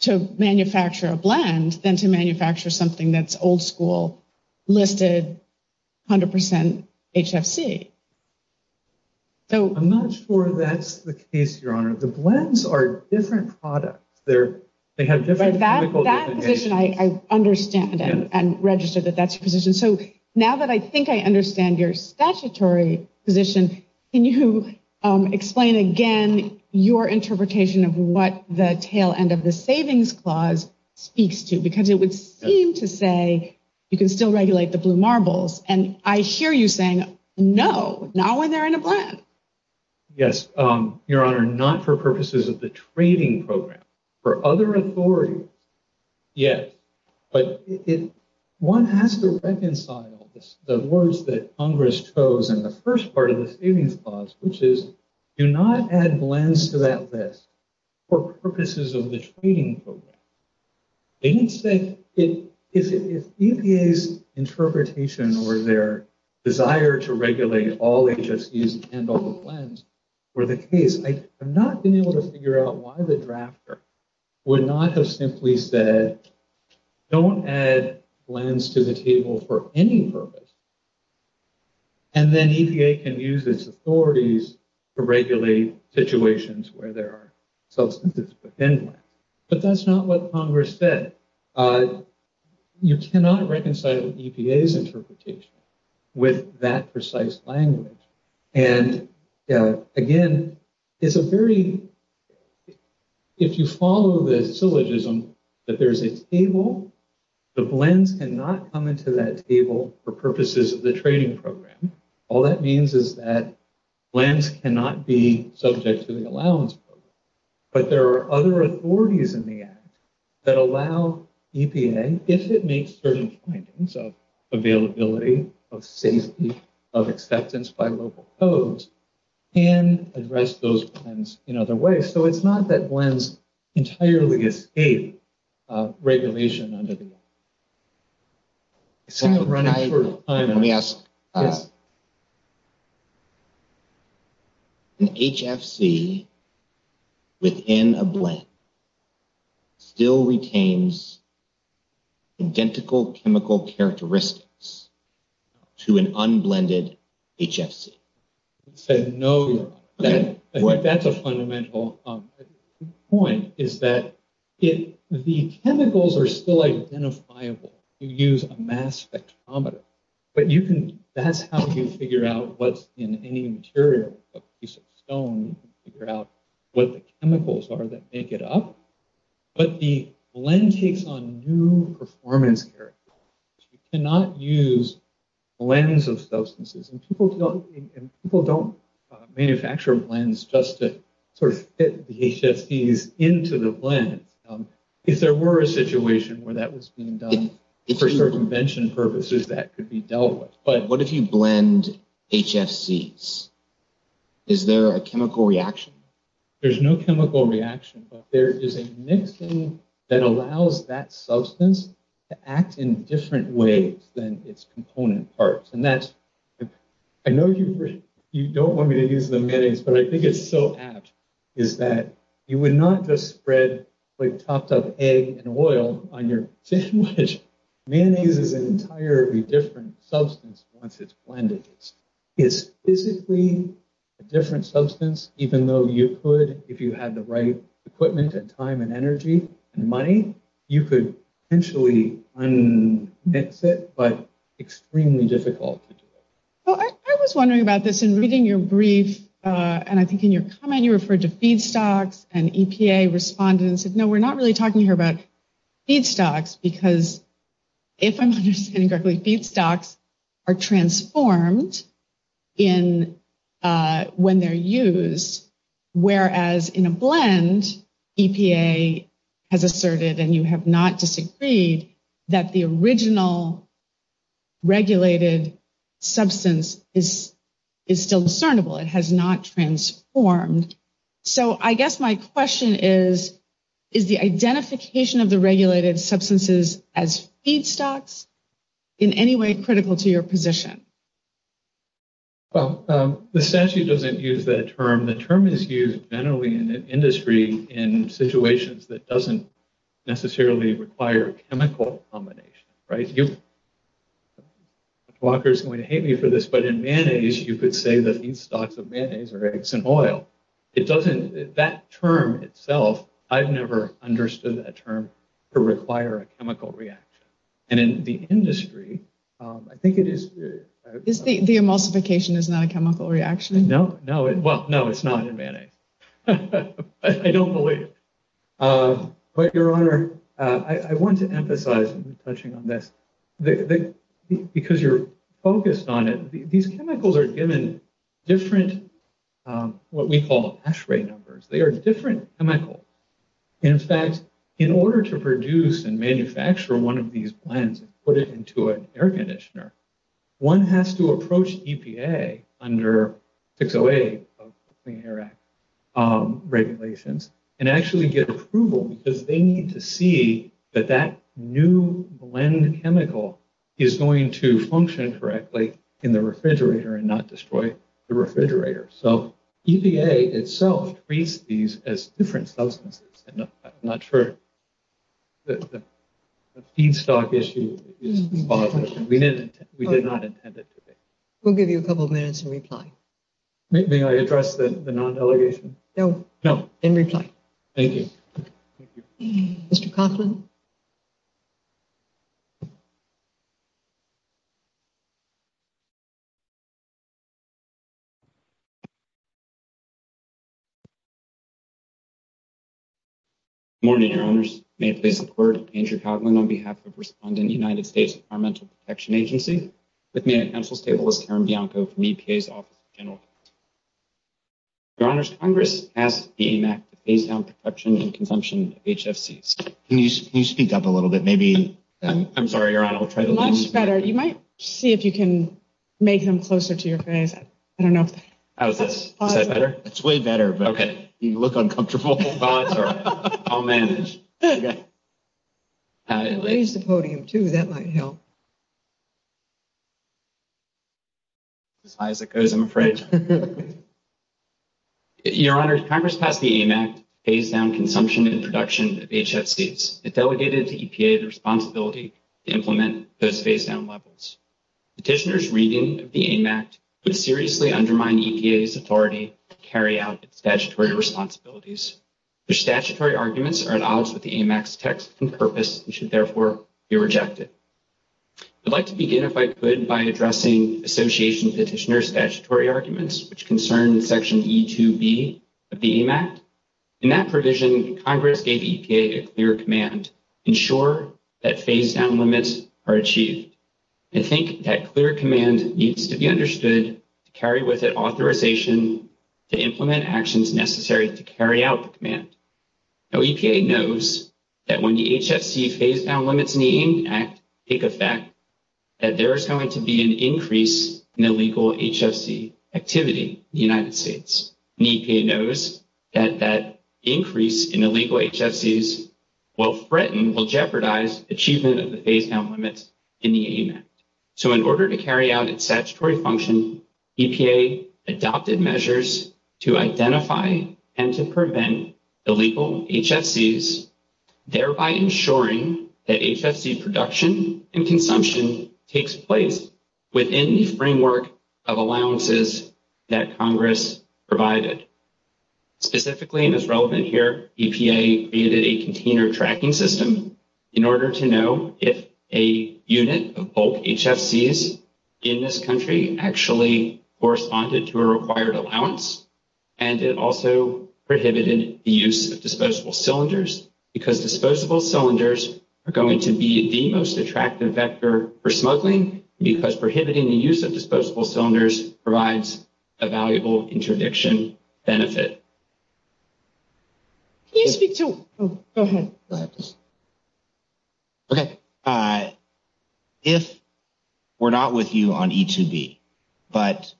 to manufacture a blend than to manufacture something that's old school, listed, 100% HFC. I'm not sure that's the case, Your Honor. The blends are different products. They have different chemical designation. But that's the position I understand and registered that that's the position. So now that I think I understand your statutory position, can you explain again your interpretation of what the tail end of the savings clause speaks to? Because it would seem to say you can still regulate the blue marbles, and I hear you saying, no, not when they're in a blend. Yes, Your Honor, not for purposes of the trading program. For other authorities, yes. But one has to reconcile the words that Congress chose in the first part of the savings clause, which is do not add blends to that list for purposes of the trading program. I need to say, if EPA's interpretation or their desire to regulate all HFCs and all blends were the case, I have not been able to figure out why the drafter would not have simply said, don't add blends to the table for any purpose. And then EPA can use its authorities to regulate situations where there are substances dependent. But that's not what Congress said. You cannot reconcile EPA's interpretation with that precise language. And again, it's a very, if you follow the syllogism that there's a table, the blends cannot come into that table for purposes of the trading program. All that means is that blends cannot be subject to the allowance program. But there are other authorities in the act that allow EPA, if it meets certain points of availability, of safety, of acceptance by local codes, can address those blends in other ways. So it's not that blends entirely escape regulation under the act. Let me ask, an HFC within a blend still retains identical chemical characteristics to an unblended HFC? That's a fundamental point, is that the chemicals are still identifiable. You use a mass spectrometer. But that's how you figure out what's in any material. A piece of stone, you can figure out what the chemicals are that make it up. But the blend takes on new performance characteristics. You cannot use blends of substances. And people don't manufacture blends just to sort of fit the HFCs into the blend. If there were a situation where that was being done for convention purposes, that could be dealt with. But what if you blend HFCs? Is there a chemical reaction? There's no chemical reaction. But there is a mixing that allows that substance to act in different ways than its component parts. I know you don't want me to use the mayonnaise, but I think it's so apt, is that you would not just spread like chopped up egg and oil on your fish and fish. Mayonnaise is an entirely different substance once it's blended. It's physically a different substance, even though you could, if you had the right equipment and time and energy and money, you could potentially unmix it, but extremely difficult. I was wondering about this in reading your brief, and I think in your comment you referred to feedstocks, and EPA responded and said, no, we're not really talking here about feedstocks, because if I'm understanding correctly, feedstocks are transformed when they're used, whereas in a blend, EPA has asserted, and you have not disagreed, that the original regulated substance is still discernible. It has not transformed. So I guess my question is, is the identification of the regulated substances as feedstocks in any way critical to your position? Well, the statute doesn't use that term. The term is used generally in the industry in situations that doesn't necessarily require a chemical combination, right? Walker's going to hate me for this, but in mayonnaise, you could say that feedstocks of mayonnaise or eggs and oil, it doesn't, that term itself, I've never understood that term to require a chemical reaction. And in the industry, I think it is... The emulsification is not a chemical reaction? No. Well, no, it's not in mayonnaise. I don't believe it. But, Your Honor, I want to emphasize, because you're focused on it, these chemicals are given different, what we call, ASHRAE numbers. They are different chemicals. In fact, in order to produce and manufacture one of these blends and put it into an air conditioner, one has to approach EPA under 608 of the Clean Air Act regulations and actually get approval because they need to see that that new blend chemical is going to function correctly in the refrigerator and not destroy the refrigerator. So EPA itself treats these as different substances. I'm not sure the feedstock issue is positive. We did not intend it to be. We'll give you a couple of minutes to reply. May I address the non-delegation? No. No. Then reply. Thank you. Thank you. Mr. Coughlin? Good morning, Your Honors. May it please the Court, I'm Andrew Coughlin on behalf of the responding United States Environmental Protection Agency. With me at the Council table is Karen Bianco from EPA's Office of General Affairs. Your Honors, Congress asked the EMAC to phase out production and consumption of HFCs. Can you speak up a little bit? I'm sorry, Your Honor. Much better. You might see if you can make him closer to your face. I don't know. How's this? Is that better? It's way better. Okay. You look uncomfortable. I'll manage. Raise the podium, too. That might help. As high as it goes, I'm afraid. Your Honors, Congress passed the EMAC to phase out consumption and production of HFCs. It delegated to EPA the responsibility to implement those phase-out levels. Petitioners' reading of the EMAC would seriously undermine EPA's authority to carry out statutory Your Honors, Congress asked the EMAC to phase out production and consumption of HFCs. Can you speak up a little bit? their responsibilities. Their statutory arguments are an option in the EMAC's text and purpose and should, therefore, be rejected. I'd like to begin, if I could, by addressing associations' petitioner statutory arguments, which concern Section E-2-B of the EMAC. In that provision, Congress gave EPA a clear command to ensure that phase-out limits are achieved. I think that clear command needs to be understood to carry with it authorization to implement the actions necessary to carry out the command. EPA knows that when the HFC phase-out limits in the EMAC take effect, that there is going to be an increase in illegal HFC activity in the United States, and EPA knows that that increase in illegal HFCs will threaten, will jeopardize, achievement of the phase-out limits in the EMAC. So in order to carry out its statutory function, EPA adopted measures to identify and to prevent illegal HFCs, thereby ensuring that HFC production and consumption takes place within the framework of allowances that Congress provided. Specifically, and it's relevant here, EPA created a container tracking system in order to know if a unit of bulk HFCs in this country actually corresponded to a required allowance, and it also prohibited the use of disposable cylinders, because disposable cylinders are going to be the most attractive factor for smuggling, because prohibiting the use of disposable cylinders provides a valuable interdiction benefit. Can you speak to – oh, go ahead. Go ahead. Okay. If we're not with you on E2B, but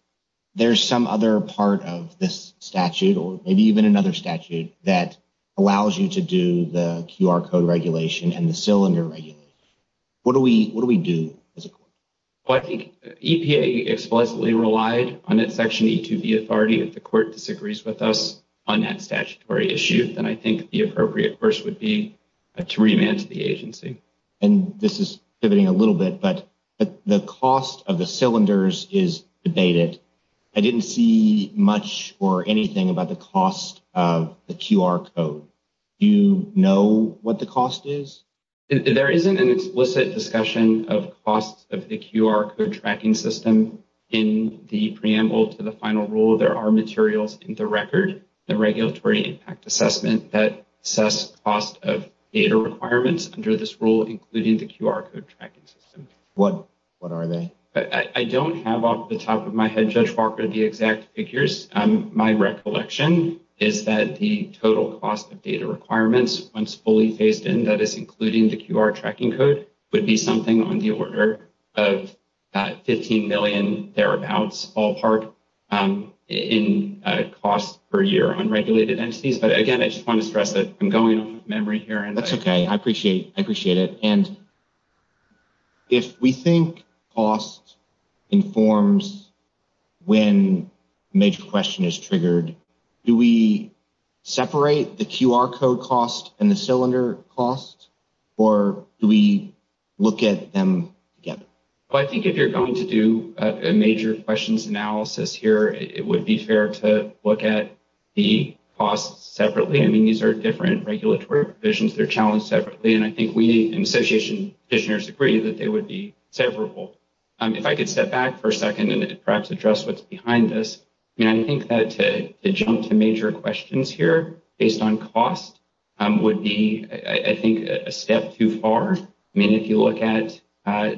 there's some other part of this statute or maybe even another statute that allows you to do the QR code regulation and the cylinder regulation, what do we do as a court? Well, I think EPA explicitly relied on this section of E2B authority. If the court disagrees with us on that statutory issue, then I think the appropriate course would be to remand the agency. And this is pivoting a little bit, but the cost of the cylinders is debated. I didn't see much or anything about the cost of the QR code. Do you know what the cost is? There isn't an explicit discussion of cost of the QR code tracking system in the preamble to the final rule. There are materials in the record, the regulatory impact assessment, that assess cost of data requirements under this rule, including the QR code tracking system. What are they? I don't have off the top of my head, Judge Walker, the exact figures. My recollection is that the total cost of data requirements, once fully phased in, that is including the QR tracking code, would be something on the order of $15 million thereabouts all part in cost per year on regulated entities. But again, I just want to stress that I'm going through memory here. That's okay. I appreciate it. And if we think cost informs when major question is triggered, do we separate the QR code cost and the cylinder cost, or do we look at them together? Well, I think if you're going to do a major questions analysis here, it would be fair to look at the costs separately. I mean, these are different regulatory provisions. They're challenged separately. And I think we, in association, practitioners agree that they would be severable. If I could step back for a second and perhaps address what's behind this, I think that to jump to major questions here based on cost would be, I think, a step too far. I mean, if you look at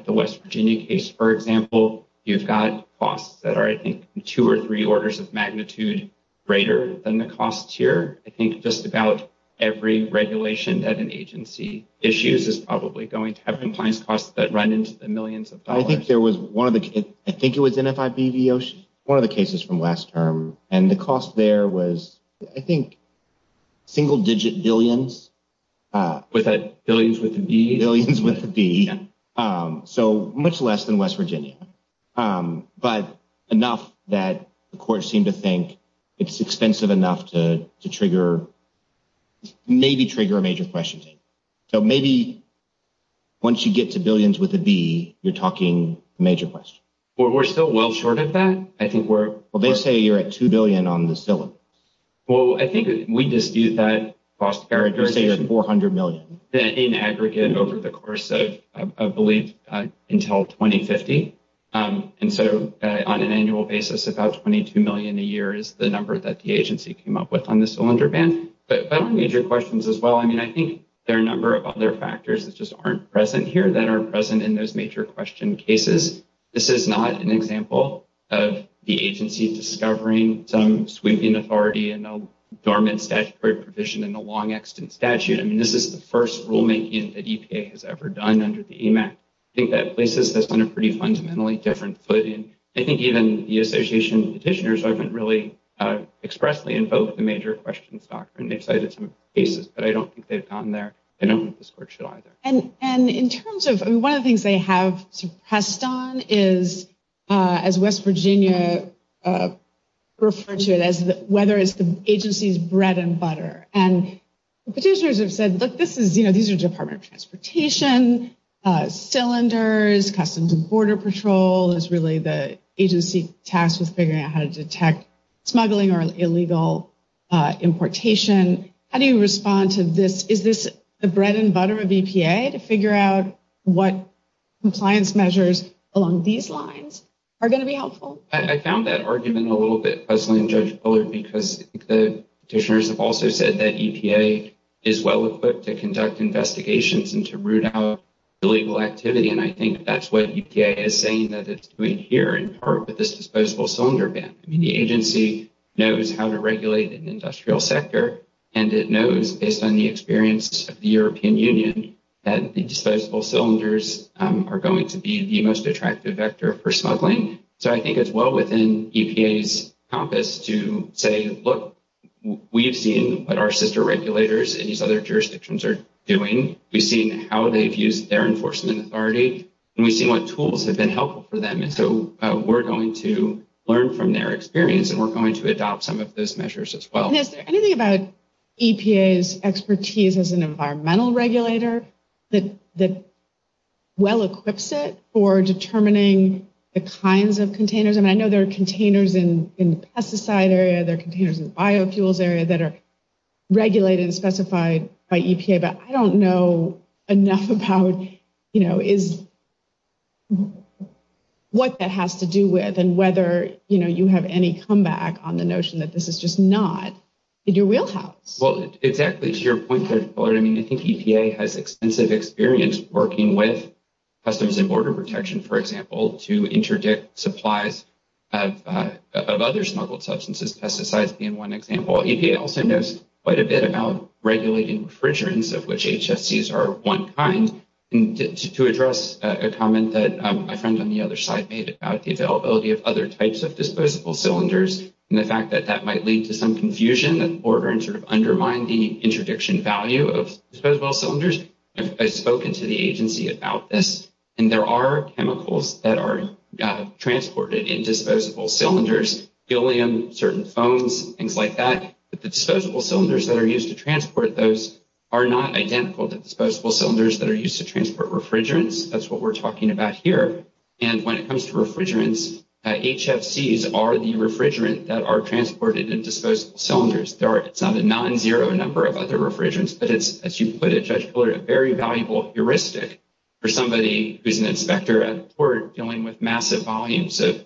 the West Virginia case, for example, you've got costs that are, I think, two or three orders of magnitude greater than the costs here. I think just about every regulation as an agency issues is probably going to have compliance costs that run into the millions of dollars. I think there was one of the cases, I think it was NFIB, one of the cases from last term, and the cost there was, I think, single digit billions. Billions with a B? Billions with a B. So much less than West Virginia. But enough that the courts seem to think it's expensive enough to trigger, maybe trigger a major questions. So maybe once you get to billions with a B, you're talking major questions. We're still well short of that? Well, they say you're at $2 billion on the cylinder. Well, I think we dispute that. You're saying $400 million? In aggregate over the course of, I believe, until 2050. And so on an annual basis, about $22 million a year is the number that the agency came up with on the cylinder ban. But federal major questions as well, I mean, I think there are a number of other factors that just aren't present here that are present in those major question cases. This is not an example of the agency discovering some sweeping authority in a dormant statutory provision in a long-extant statute. I mean, this is the first rulemaking that EPA has ever done under the EMAC. I think that places this on a pretty fundamentally different footing. I think even the Association of Petitioners haven't really expressly invoked the major questions doctrine. They cited some cases, but I don't think they've gotten there. I don't think this court should either. And in terms of... I mean, one of the things they have pressed on is, as West Virginia referred to it, whether it's the agency's bread and butter. And petitioners have said, look, these are Department of Transportation, cylinders, Customs and Border Patrol is really the agency tasked with figuring out how to detect smuggling or illegal importation. How do you respond to this? Is this the bread and butter of EPA to figure out what compliance measures along these lines are going to be helpful? I found that argument a little bit puzzling, Judge Fuller, because the petitioners have also said that EPA is well equipped to conduct investigations and to root out illegal activity. And I think that's what EPA is saying that it's doing here in part with this disposable cylinder ban. I mean, the agency knows how to regulate an industrial sector, and it knows, based on the experience of the European Union, that the disposable cylinders are going to be the most attractive vector for smuggling. So I think it's well within EPA's compass to say, look, we've seen what our sister regulators in these other jurisdictions are doing. We've seen how they've used their enforcement authority, and we've seen what tools have been helpful for them. And so we're going to learn from their experience, and we're going to adopt some of those measures as well. Now, is there anything about EPA's expertise as an environmental regulator that well equips it for determining the kinds of containers? And I know there are containers in the pesticide area, there are containers in the biofuels area that are regulated and specified by EPA, but I don't know enough about what that has to do with and whether you have any comeback on the notion that this is just not the real health. Well, exactly to your point, I mean, I think EPA has extensive experience working with Customs and Border Protection, for example, to interdict supplies of other smuggled substances, pesticides being one example. EPA also knows quite a bit about regulating refrigerants, of which HFCs are of one kind. To address a comment that a friend on the other side made about the availability of other types of disposable cylinders and the fact that that might lead to some confusion or undermine the interdiction value of disposable cylinders, I've spoken to the agency about this, and there are chemicals that are transported in disposable cylinders, helium, certain foams, things like that, but the disposable cylinders that are used to transport those are not identical to disposable cylinders that are used to transport refrigerants. That's what we're talking about here. And when it comes to refrigerants, HFCs are the refrigerant that are transported in disposable cylinders. It's not a non-zero number of other refrigerants, but it's, as you put it, a very valuable heuristic for somebody who's an inspector at the port dealing with massive volumes of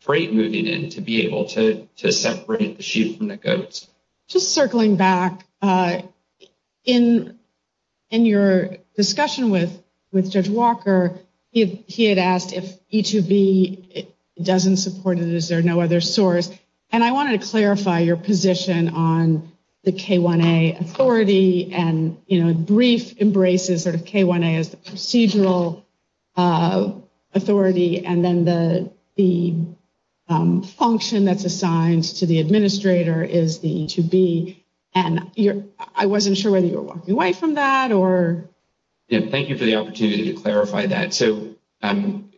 freight moving in to be able to separate the chute from the goats. Just circling back, in your discussion with Judge Walker, he had asked if E2B doesn't support it, is there no other source? And I wanted to clarify your position on the K1A authority and brief embraces of K1A as And I wasn't sure whether you were walking away from that or... Thank you for the opportunity to clarify that. So EPA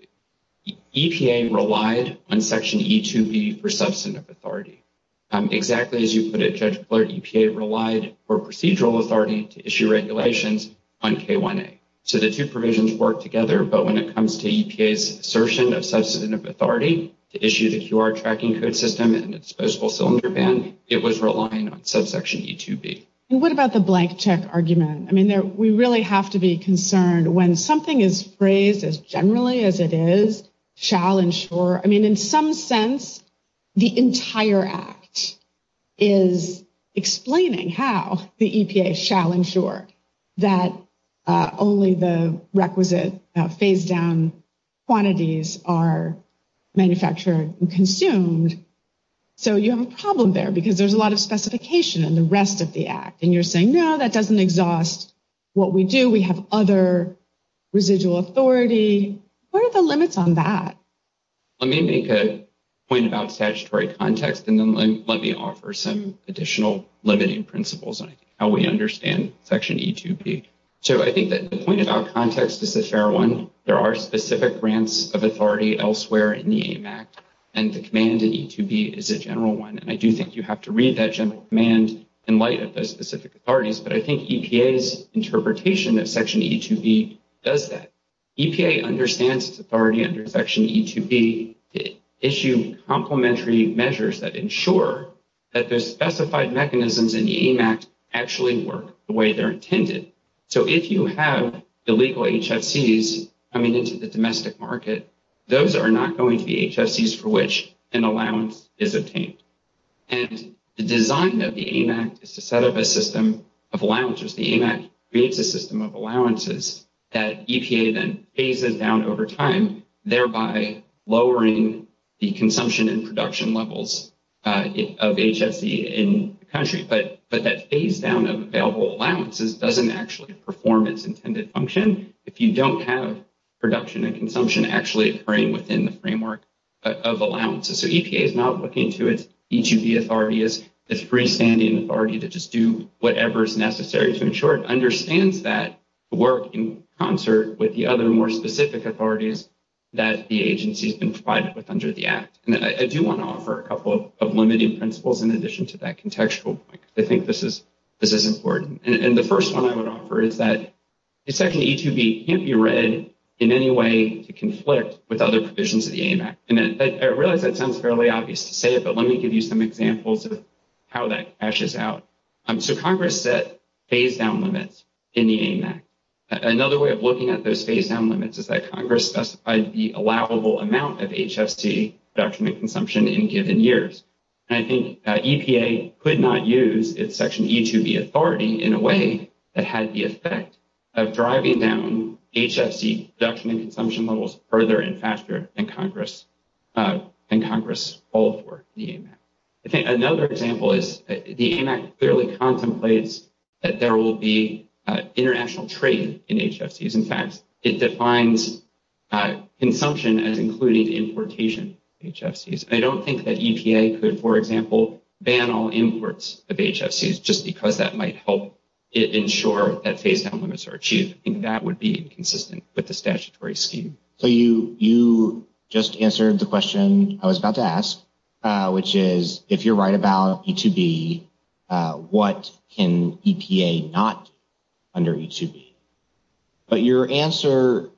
relied on Section E2B for substantive authority. Exactly as you put it, Judge Clark, EPA relied for procedural authority to issue regulations on K1A. So the two provisions work together, but when it comes to EPA's assertion of substantive authority to issue the QR tracking code system and disposable cylinder ban, it was relying on subsection E2B. And what about the blank check argument? I mean, we really have to be concerned when something is phrased as generally as it is shall ensure... I mean, in some sense, the entire act is explaining how the EPA shall ensure that only the requisite phase-down quantities are manufactured and consumed. So you have a problem there because there's a lot of specification in the rest of the act. And you're saying, no, that doesn't exhaust what we do. We have other residual authority. What are the limits on that? Let me make a point about statutory context and then let me offer some additional limiting principles on how we understand Section E2B. So I think that the point about context is a fair one. There are specific grants of authority elsewhere in the AMAC, and the command in E2B is a general one. And I do think you have to read that general command in light of those specific authorities. But I think EPA's interpretation of Section E2B does that. EPA understands authority under Section E2B to issue complementary measures that ensure that the specified mechanisms in the AMAC actually work the way they're intended. So if you have the legal HSEs coming into the domestic market, those are not going to be HSEs for which an allowance is obtained. And the design of the AMAC is to set up a system of allowances. The AMAC creates a system of allowances that EPA then phases down over time, thereby lowering the consumption and production levels of HSE in the country. But that phase-down of available allowances doesn't actually perform its intended function if you don't have production and consumption actually occurring within the framework of allowances. So EPA is not looking to its E2B authority as a freestanding authority to just do whatever is necessary to ensure it understands that work in concert with the other more specific authorities that the agency has been provided with under the Act. And I do want to offer a couple of limiting principles in addition to that contextual. I think this is important. And the first one I would offer is that the Section E2B can't be read in any way to conflict with other provisions of the AMAC. And I realize that sounds fairly obvious to say it, but let me give you some examples of how that fashes out. So Congress set phase-down limits in the AMAC. Another way of looking at those phase-down limits is that Congress specified the allowable amount of HSE production and consumption in given years. And I think EPA could not use its Section E2B authority in a way that had the effect of driving down HSE production and consumption levels further and faster than Congress called for in the AMAC. I think another example is the AMAC clearly contemplates that there will be international trade in HSEs. In fact, it defines consumption and including importation of HSEs. I don't think that EPA could, for example, ban all imports of HSEs just because that might help ensure that phase-down limits are achieved. I think that would be inconsistent with the statutory scheme. So you just answered the question I was about to ask, which is, if you're right about E2B, what can EPA not under E2B? But your answer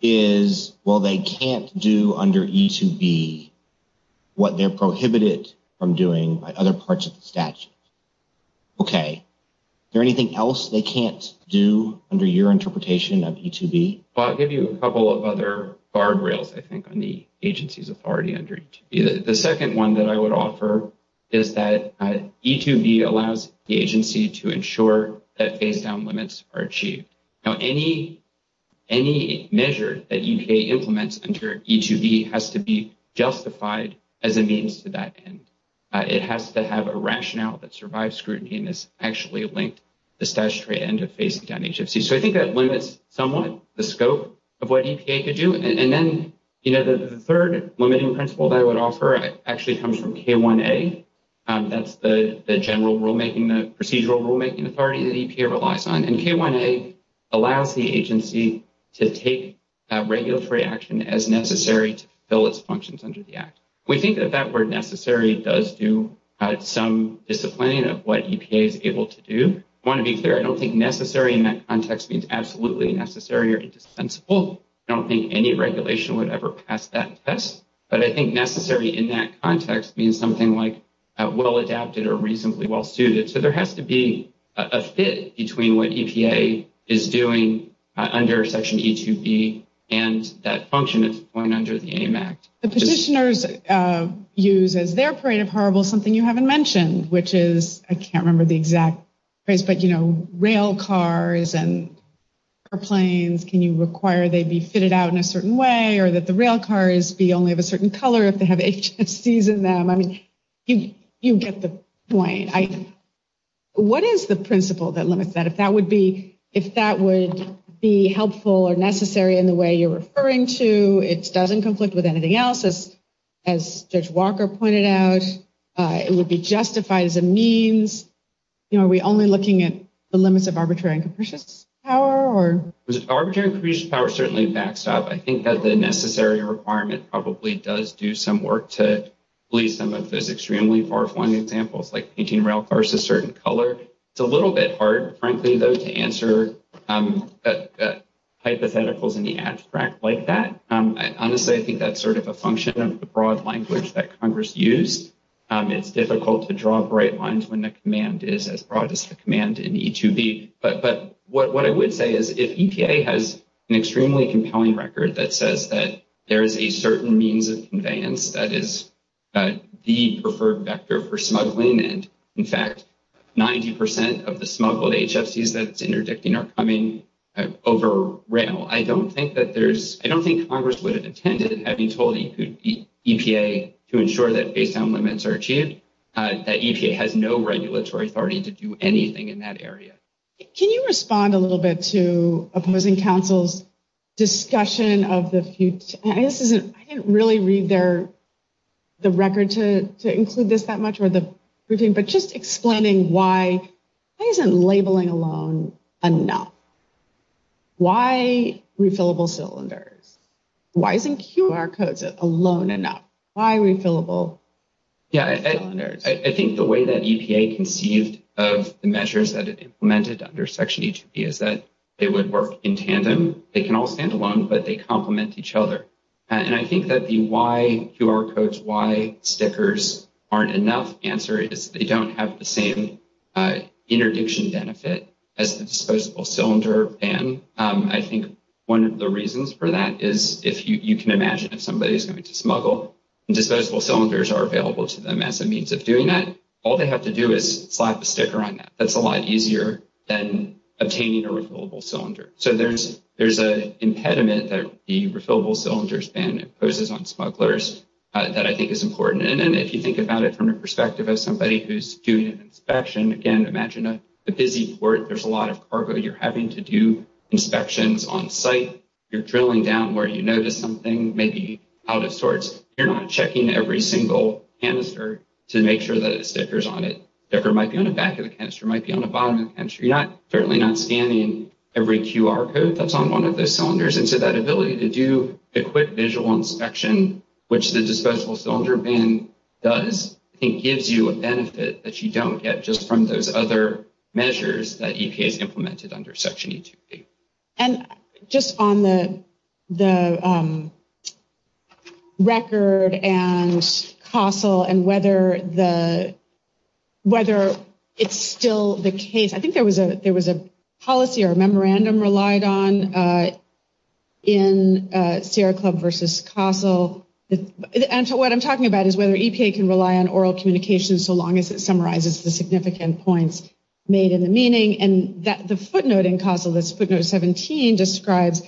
is, well, they can't do under E2B what they're prohibited from doing by other parts of the statute. Okay. Is there anything else they can't do under your interpretation of E2B? Well, I'll give you a couple of other guardrails, I think, on the agency's authority under E2B. The second one that I would offer is that E2B allows the agency to ensure that phase-down limits are achieved. Now, any measure that EPA implements under E2B has to be justified as a means to that end. It has to have a rationale that survives scrutiny and is actually linked to statutory end of phase-down HSE. So I think that limits somewhat the scope of what EPA could do. And then, you know, the third limiting principle I would offer actually comes from K1A. That's the general rulemaking, the procedural rulemaking authority that EPA relies on. And K1A allows the agency to take that regulatory action as necessary to fill its functions under the Act. We think that that word necessary does do some disciplining of what EPA is able to do. I want to be clear, I don't think necessary in that context means absolutely necessary or indispensable. I don't think any regulation would ever pass that test. But I think necessary in that context means something like well-adapted or reasonably well-suited. So there has to be a fit between what EPA is doing under Section E2B and that function that's going under the AMACT. The petitioners use as their parade of horribles something you haven't mentioned, which is I can't remember the exact phrase, but, you know, rail cars and airplanes. Can you require they be fitted out in a certain way or that the rail cars be only of a certain color if they have HSCs in them? I mean, you get the point. What is the principle that limits that? If that would be helpful or necessary in the way you're referring to, it's not in conflict with anything else, as Judge Walker pointed out. It would be justified as a means. You know, are we only looking at the limits of arbitrary and capricious power? Arbitrary and capricious power certainly backs up. I think that the necessary requirement probably does do some work to leave some of those extremely far-flying examples, like painting rail cars a certain color. It's a little bit hard, frankly, though, to answer hypotheticals in the abstract like that. Honestly, I think that's sort of a function of the broad language that Congress used. It's difficult to draw bright lines when the command is as broad as the command in E2B. But what I would say is if EPA has an extremely compelling record that says that there is a certain means of conveyance that is the preferred vector for smuggling and, in fact, 90 percent of the smuggled HSCs that's interdicting are coming over rail, I don't think that there's – I don't think Congress would have intended, having told EPA to ensure that baseline limits are achieved, that EPA has no regulatory authority to do anything in that area. Can you respond a little bit to opposing counsel's discussion of the – I didn't really read their – the record to include this that much, but just explaining why – why isn't labeling alone enough? Why refillable cylinders? Why isn't QR codes alone enough? Why refillable cylinders? Yeah, I think the way that EPA conceived of the measures that it implemented under Section E2B is that they would work in tandem. They can all stand alone, but they complement each other. And I think that the why QR codes, why stickers aren't enough answer is they don't have the same interdiction benefit as the disposable cylinder ban. I think one of the reasons for that is if you can imagine if somebody is going to smuggle and disposable cylinders are available to them as a means of doing that, all they have to do is slap a sticker on that. That's a lot easier than obtaining a refillable cylinder. So there's an impediment that the refillable cylinders ban imposes on smugglers that I think is important. And then if you think about it from the perspective of somebody who's doing an inspection, again, imagine a busy port. There's a lot of cargo. You're having to do inspections on site. You're drilling down where you notice something may be out of sorts. You're not checking every single canister to make sure that a sticker's on it. The sticker might be on the back of the canister, might be on the bottom of the canister. You're not – certainly not scanning every QR code that's on one of those cylinders. So in addition to that ability to do a quick visual inspection, which the disposable cylinder ban does, it gives you a benefit that you don't get just from those other measures that EPA implemented under Section 828. And just on the record and fossil and whether it's still the case, I think there was a policy or a memorandum relied on in Sierra Club versus CASEL. And so what I'm talking about is whether EPA can rely on oral communication so long as it summarizes the significant points made in the meeting. And the footnote in CASEL, this footnote 17, describes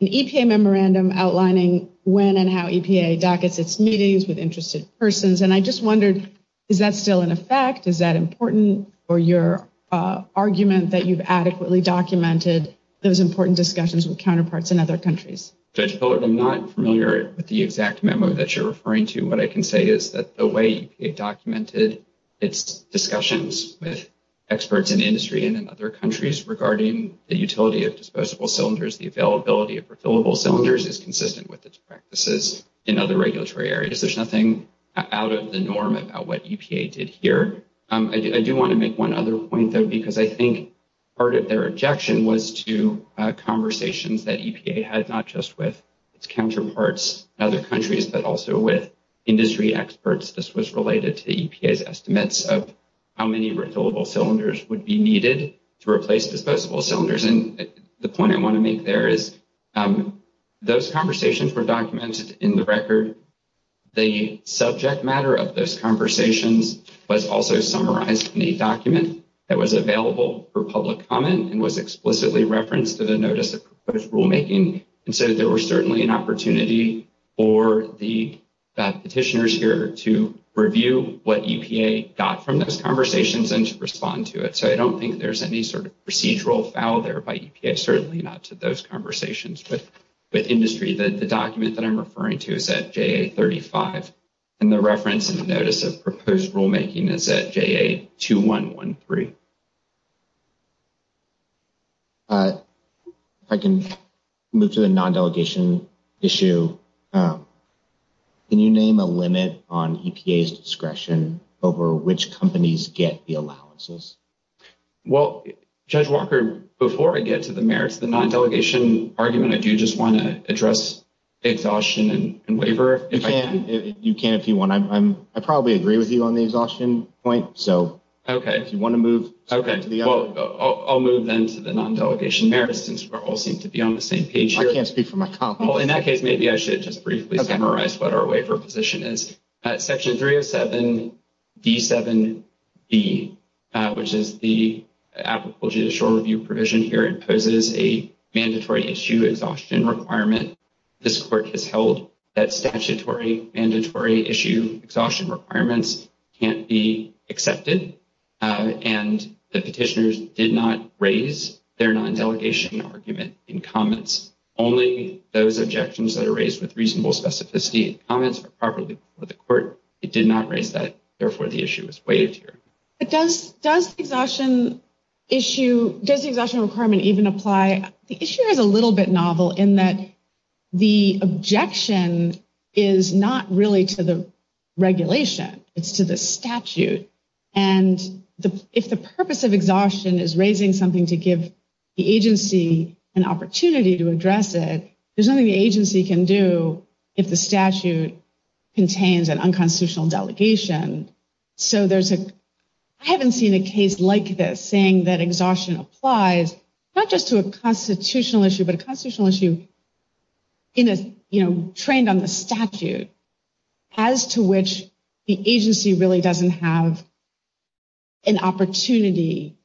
an EPA memorandum outlining when and how EPA dockets its meetings with interested persons. And I just wondered, is that still in effect? Is that important for your argument that you've adequately documented those important discussions with counterparts in other countries? I'm not familiar with the exact memo that you're referring to. What I can say is that the way EPA documented its discussions with experts in industry and in other countries regarding the utility of disposable cylinders, the availability of refillable cylinders is consistent with its practices in other regulatory areas. There's nothing out of the norm about what EPA did here. I do want to make one other point, though, because I think part of their objection was to conversations that EPA had not just with its counterparts in other countries, but also with industry experts. This was related to EPA's estimates of how many refillable cylinders would be needed to replace disposable cylinders. And the point I want to make there is, those conversations were documented in the record. The subject matter of those conversations was also summarized in a document that was available for public comment and was explicitly referenced in the notice of rulemaking. And so there was certainly an opportunity for the petitioners here to review what EPA got from those conversations and to respond to it. So I don't think there's any sort of procedural foul there by EPA, certainly not to those conversations with industry. The document that I'm referring to is at JA35. And the reference in the notice of proposed rulemaking is at JA2113. If I can move to the non-delegation issue. Can you name a limit on EPA's discretion over which companies get the allowances? Well, Judge Walker, before I get to the merits of the non-delegation argument, if you just want to address the exhaustion and waiver, if I can. You can if you want. I probably agree with you on the exhaustion point. Okay. If you want to move. Okay. I'll move then to the non-delegation merits, since we all seem to be on the same page here. I can't speak for myself. Well, in that case, maybe I should just briefly summarize what our waiver position is. Section 307D7d, which is the Applicable Judicial Review provision here, imposes a mandatory issue exhaustion requirement. This court has held that statutory mandatory issue exhaustion requirements can't be accepted. And the petitioners did not raise their non-delegation argument in comments. Only those objections that are raised with reasonable specificity in comments are properly with the court. It did not raise that. Therefore, the issue is waived here. But does the exhaustion issue, does the exhaustion requirement even apply? The issue is a little bit novel in that the objection is not really to the regulation. It's to the statute. And if the purpose of exhaustion is raising something to give the agency an opportunity to address it, there's nothing the agency can do if the statute contains an unconstitutional delegation. So I haven't seen a case like this saying that exhaustion applies, not just to a constitutional issue, but a constitutional issue trained on the statute, as to which the agency really doesn't have an opportunity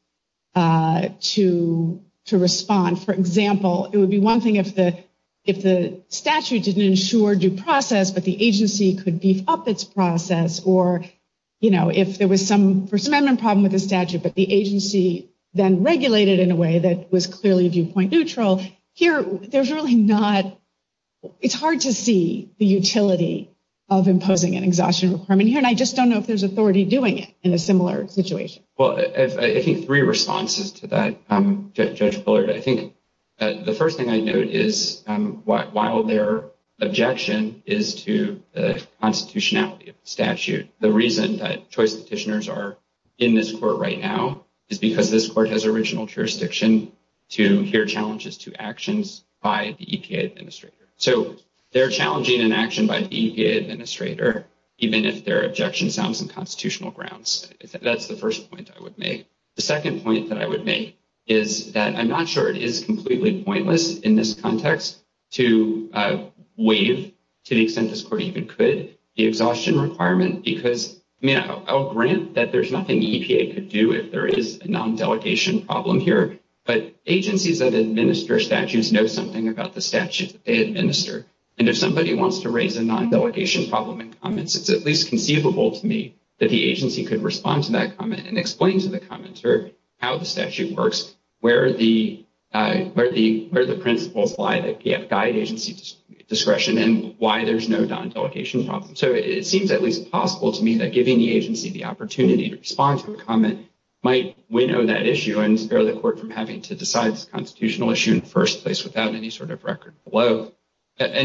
to respond. For example, it would be one thing if the statute didn't ensure due process, but the agency could beef up its process. Or, you know, if there was some amendment problem with the statute, but the agency then regulated in a way that was clearly viewpoint neutral. Here, there's really not... It's hard to see the utility of imposing an exhaustion requirement here. And I just don't know if there's authority doing it in a similar situation. Well, I think three responses to that, Judge Bullard. I think the first thing I note is while their objection is to the constitutionality of the statute, the reason that choice petitioners are in this court right now is because this court has original jurisdiction to hear challenges to actions by the EPA administrator. So, they're challenging an action by the EPA administrator, even if their objection is on some constitutional grounds. That's the first point I would make. The second point that I would make is that I'm not sure it is completely pointless in this context to waive, to the extent this court even could, the exhaustion requirement because, you know, I'll grant that there's nothing EPA could do if there is a non-delegation problem here, but agencies that administer statutes know something about the statute. They administer. And if somebody wants to raise a non-delegation problem in comments, it's at least conceivable to me that the agency could respond to that comment and explain to the commenter how the statute works, where the principle apply, the PF guide agency's discretion, and why there's no non-delegation problem. So, it seems at least possible to me that giving the agency the opportunity to respond to the comment might winnow that issue and spare the court from having to decide this And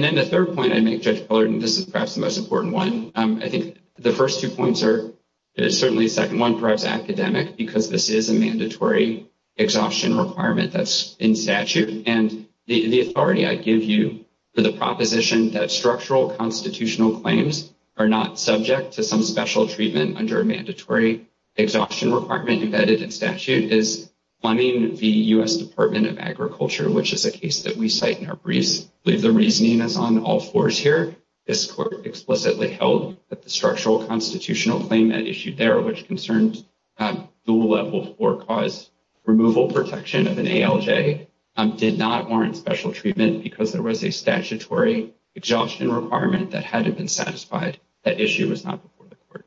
then the third point I make, Judge Fullerton, this is perhaps the most important one. I think the first two points are certainly second. One, perhaps academic, because this is a mandatory exhaustion requirement that's in statute. And the authority I give you to the proposition that structural constitutional claims are not subject to some special treatment under a mandatory exhaustion requirement that is in statute is funding the U.S. Department of Agriculture, which is a case that we cite in our brief. The reasoning is on all fours here. This court explicitly held that the structural constitutional claim that is issued there, which concerns dual level four cause removal protection of an ALJ, did not warrant special treatment because there was a statutory exhaustion requirement that hadn't been satisfied. That issue was not before the court.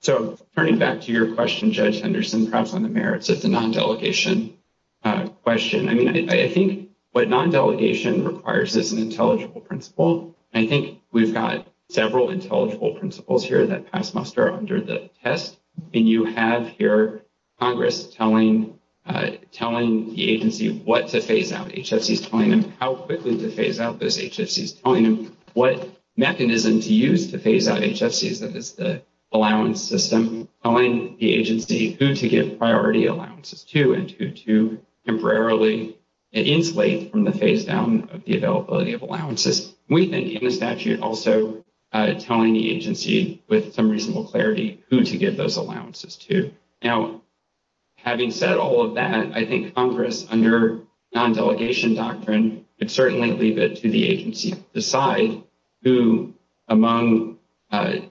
So, turning back to your question, Judge Henderson, perhaps on the merits of the non-delegation question, I mean, I think what non-delegation requires is an intelligible principle. I think we've got several intelligible principles here that cost muster under the test. And you have here Congress telling the agency what to phase out. HSE is telling them how quickly to phase out those HSEs. Telling them what mechanisms to use to phase out HSEs. It's the allowance system telling the agency who to give priority allowances to and who to temporarily inflate from the phase down of the availability of allowances. We think in the statute also telling the agency with some reasonable clarity who to give those allowances to. Now, having said all of that, I think Congress under non-delegation doctrine could certainly leave that to the agency to decide who among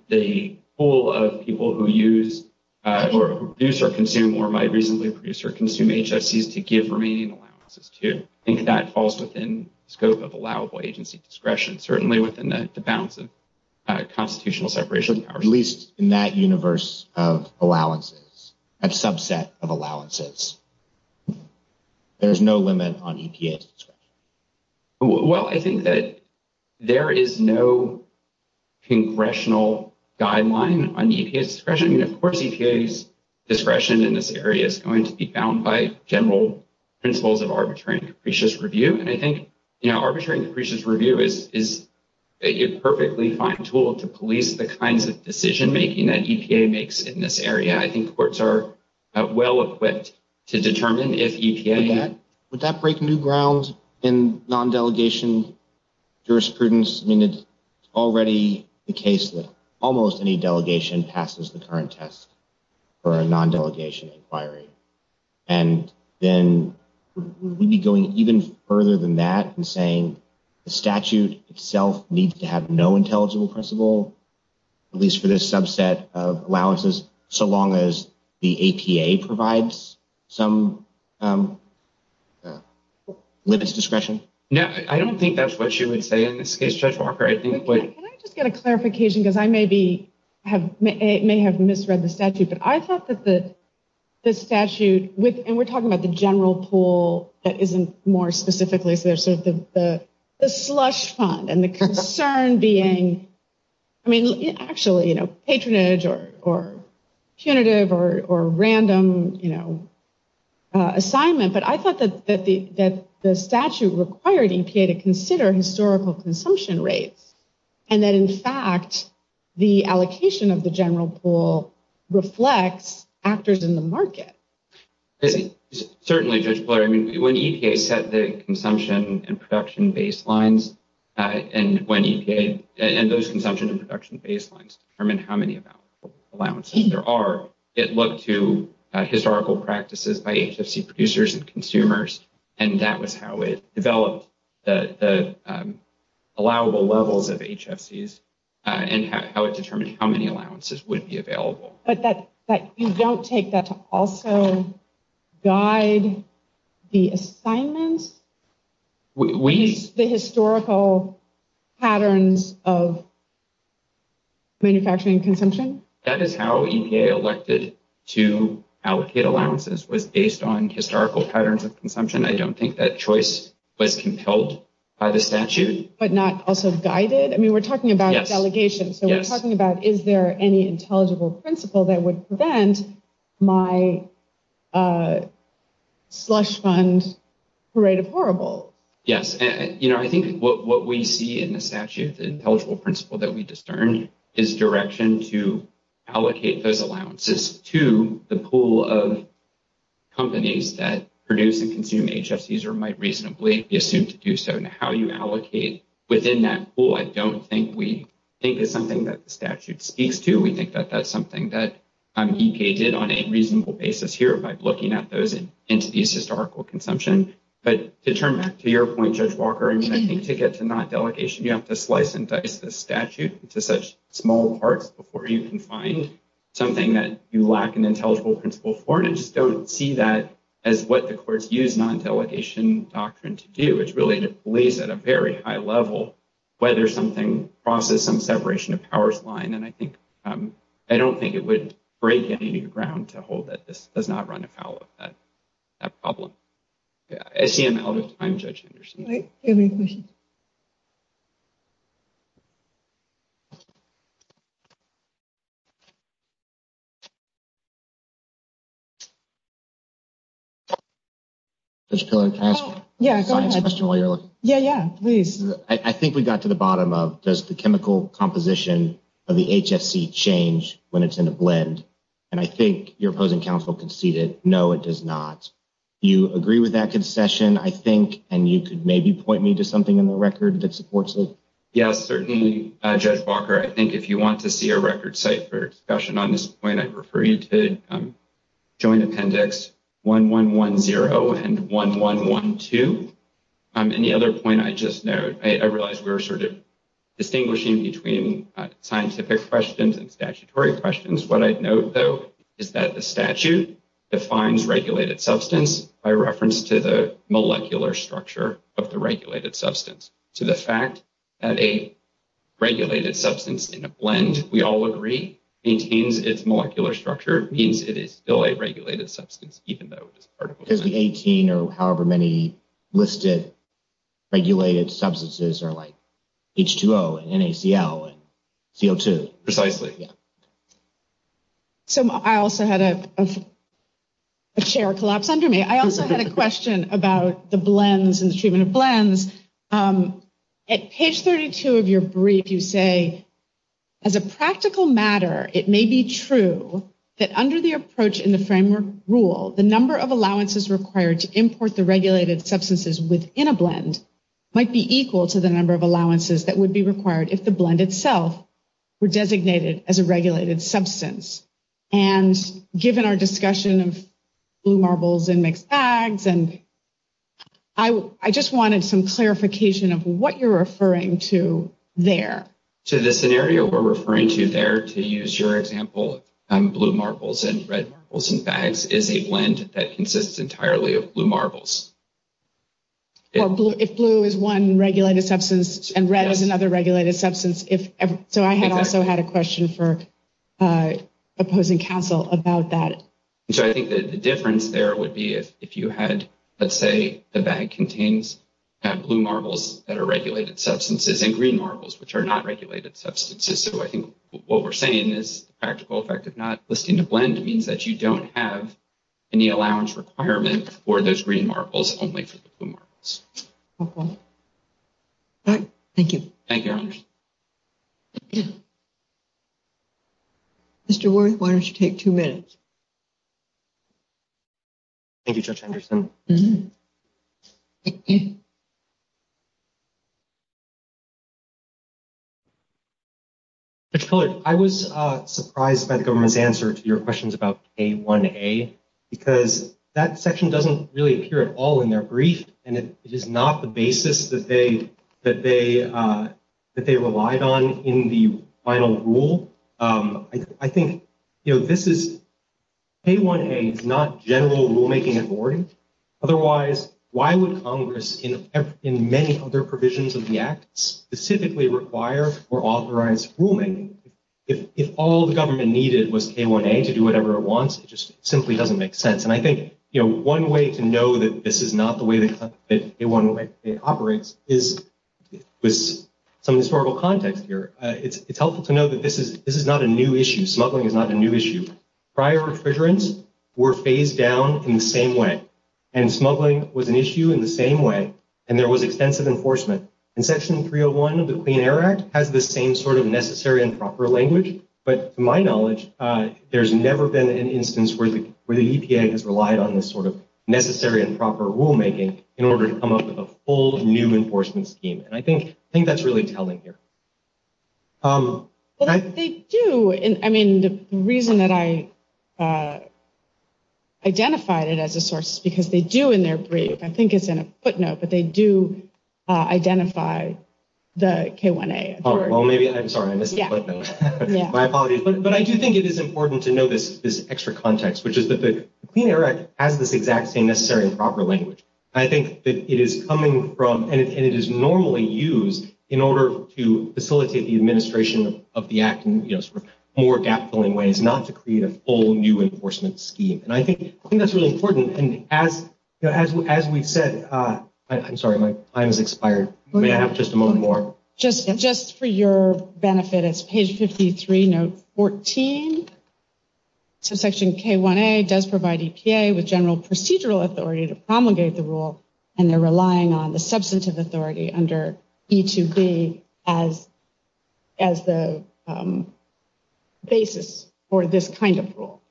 the pool of people who use or produce or consume or might reasonably produce or consume HSEs to give remaining allowances to. I think that falls within the scope of allowable agency discretion. Certainly within the bounds of constitutional separation are released in that universe of allowances, that subset of allowances. There's no limit on EPA's discretion. Well, I think that there is no congressional guideline on EPA's discretion. Of course, EPA's discretion in this area is going to be bound by general principles of arbitrary and capricious review. And I think, you know, arbitrary and capricious review is a perfectly fine tool to police the kinds of decision making that EPA makes in this area. I think courts are well equipped to determine if EPA can. Would that break new grounds in non-delegation jurisprudence? I mean, it's already the case that almost any delegation passes the current test for a non-delegation inquiry. And then we'd be going even further than that and saying the statute itself needs to have no intelligent principle, at least for this subset of allowances, so long as the APA provides some limits of discretion. No, I don't think that's what you would say in this case, Judge Walker. Can I just get a clarification? Because I may have misread the statute. But I thought that the statute, and we're talking about the general pool that isn't more than, I mean, actually, you know, patronage or punitive or random, you know, assignment. But I thought that the statute required EPA to consider historical consumption rates and that, in fact, the allocation of the general pool reflects actors in the market. Certainly, Judge Blair. I mean, when EPA set the consumption and production baselines, and those consumption and production baselines determine how many allowances there are, it looked to historical practices by HFC producers and consumers, and that was how it developed the allowable levels of HFCs and how it determined how many allowances would be available. But you don't take that to also guide the assignment? The historical patterns of manufacturing consumption? That is how EPA elected to allocate allowances was based on historical patterns of consumption. I don't think that choice was compelled by the statute. But not also guided? I mean, we're talking about delegation. So we're talking about is there any intelligible principle that would prevent my slush fund parade of horrible? Yes. You know, I think what we see in the statute, the intelligible principle that we discern is direction to allocate those allowances to the pool of companies that produce and consume HFCs or might reasonably assume to do so. And how you allocate within that pool, I don't think we think is something that the statute speaks to. We think that that's something that EPA did on a reasonable basis here by looking at those entities' historical consumption. But to turn back to your point, Judge Walker, I mean, I think it's a non-delegation. You have to slice and dice the statute into such small parts before you can find something that you lack an intelligible principle for, and I just don't see that as what the courts use non-delegation doctrine to do. It's really the police at a very high level, whether something crosses some separation of powers line. And I don't think it would break any new ground to hold that this does not run afoul of that problem. I see a comment. I'm judging your statement. I think we got to the bottom of, does the chemical composition of the HFC change when it's in a blend? And I think your opposing counsel conceded, no, it does not. You agree with that concession, I think, and you could maybe point me to something in the record that supports it. Yes, certainly, Judge Walker. I think if you want to see a record site for discussion on this point, I'd refer you to Joint Appendix 1110 and 1112. And the other point I just noted, I realize we're sort of distinguishing between scientific questions and statutory questions. What I'd note, though, is that the statute defines regulated substance by reference to the molecular structure of the regulated substance. To the fact that a regulated substance in a blend, we all agree, maintains its molecular structure means it is still a regulated substance, even though it's a particle. Because the 18 or however many listed regulated substances are like H2O and NaCl and CO2. Precisely. I also had a share collapse under me. I also had a question about the blends and the treatment of blends. At page 32 of your brief, you say, as a practical matter, it may be true that under the approach in the framework rule, the number of allowances required to import the regulated substances within a blend might be equal to the number of allowances that would be required if the blend itself were designated as a regulated substance. And given our discussion of blue marbles and mixed bags, I just wanted some clarification of what you're referring to there. So the scenario we're referring to there, to use your example, blue marbles and red marbles and bags, is a blend that consists entirely of blue marbles. If blue is one regulated substance and red is another regulated substance. So I had also had a question for opposing counsel about that. So I think the difference there would be if you had, let's say, the bag contains blue marbles that are regulated substances and green marbles, which are not regulated substances. So I think what we're saying is the practical effect of not listing a blend means that you don't have any allowance requirement for those green marbles, only for the blue marbles. Thank you. Thank you, Your Honor. Mr. Worth, why don't you take two minutes? Thank you, Judge Anderson. Judge Fuller, I was surprised by the government's answer to your questions about K1A, because that section doesn't really appear at all in their brief, and it is not the basis that they relied on in the final rule. I think, you know, this is K1A, not general rulemaking and boarding. Otherwise, why would Congress, in many of their provisions of the Act, specifically require or authorize rulemaking? If all the government needed was K1A to do whatever it wants, it just simply doesn't make sense. And I think, you know, one way to know that this is not the way that K1A operates is with some historical context here. It's helpful to know that this is not a new issue. Smuggling is not a new issue. Prior refrigerants were phased down in the same way, and smuggling was an issue in the same way, and there was extensive enforcement. And Section 301 of the Clean Air Act has the same sort of necessary and proper language, but to my knowledge, there's never been an instance where the EPA has relied on this sort of necessary and proper rulemaking in order to come up with a full new enforcement scheme. And I think that's really telling here. Well, they do. I mean, the reason that I identified it as a source is because they do in their brief, I think it's in a footnote, but they do identify the K1A. Oh, well, maybe. I'm sorry. My apologies. But I do think it is important to know this extra context, which is that the Clean Air Act has this exact same necessary and proper language. I think that it is coming from, and it is normally used in order to facilitate the administration of the act in more gap-filling ways, not to create a full new enforcement scheme. And I think that's really important. And as we said, I'm sorry, my time has expired. May I have just a moment more? Just for your benefit, it's page 53, note 14. So Section K1A does provide EPA with general procedural authority to promulgate the rule, and they're relying on the substantive authority under E2B as the basis for this kind of rule.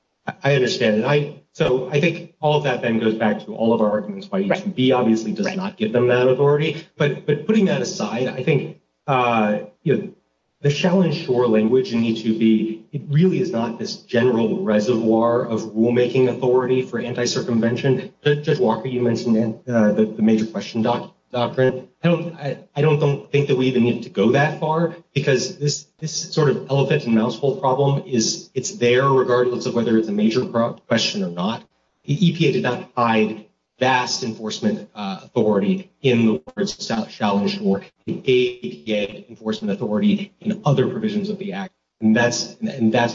I understand. So I think all of that then goes back to all of our arguments. E2B obviously does not give them that authority. But putting that aside, I think the challenge for language in E2B, it really is not this general reservoir of rulemaking authority for anti-circumvention. And then, Judge Walker, you mentioned the major question. I don't think that we even need to go that far, because this sort of elephant-in-mouse-hole problem, it's there regardless of whether it's a major question or not. The EPA did not provide vast enforcement authority in the words of Staff Shalhush or the EPA enforcement authority in other provisions of the Act. And that's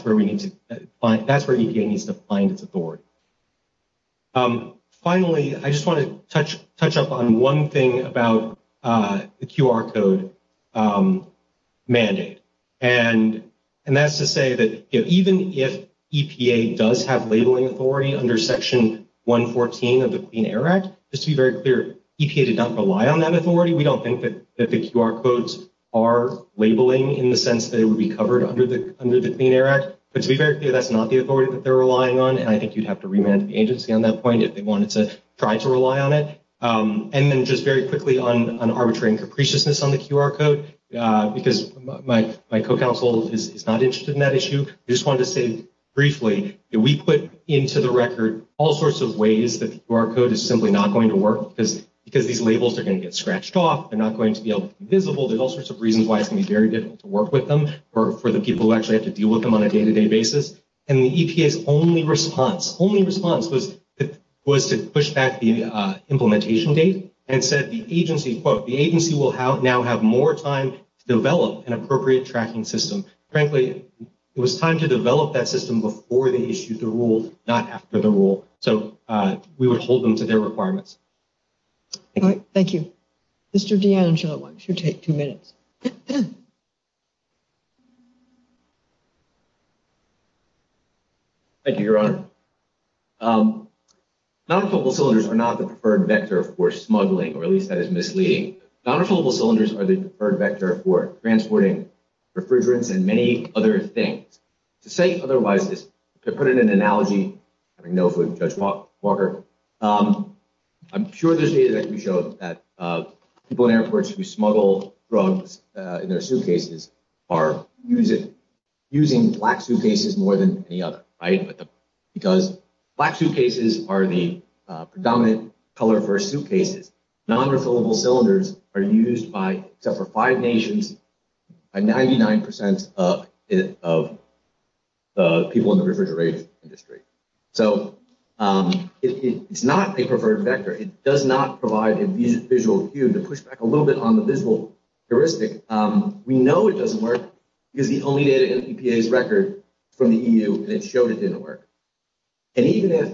where we need to – that's where EPA needs to find its authority. Finally, I just want to touch up on one thing about the QR code mandate. And that's to say that even if EPA does have labeling authority under Section 114 of the Clean Air Act, just to be very clear, EPA does not rely on that authority. We don't think that the QR codes are labeling in the sense that it would be covered under the Clean Air Act. To be very clear, that's not the authority that they're relying on, and I think you'd have to remand the agency on that point if they wanted to try to rely on it. And then just very quickly on arbitrary and capriciousness on the QR code, because my co-counsel is not interested in that issue. I just wanted to say briefly that we put into the record all sorts of ways that QR code is simply not going to work because these labels are going to get scratched off. They're not going to be visible. There's all sorts of reasons why it can be very difficult to work with them for the people who actually have to deal with them on a day-to-day basis. And the EPA's only response was to push back the implementation date and said the agency, quote, the agency will now have more time to develop an appropriate tracking system. Frankly, it was time to develop that system before they issued the rule, not after the rule. So we would hold them to their requirements. All right, thank you. Mr. D'Angelo, I'm sure you'll take two minutes. Thank you, Your Honor. Non-affordable cylinders are not the preferred vector for smuggling, or at least that is misleading. Non-affordable cylinders are the preferred vector for transporting refrigerants and many other things. To say otherwise, to put it in an analogy, I know it was Judge Walker, I'm sure the data that you showed that people in airports who smuggle drugs in their suitcases are using black suitcases more than any other, right? Because black suitcases are the predominant color for suitcases. Non-affordable cylinders are used by, except for five nations, by 99% of people in the refrigeration industry. So it's not the preferred vector. It does not provide a visual cue to push back a little bit on the visual heuristic. We know it doesn't work because the only data in the EPA's record from the EU that showed it didn't work. And even if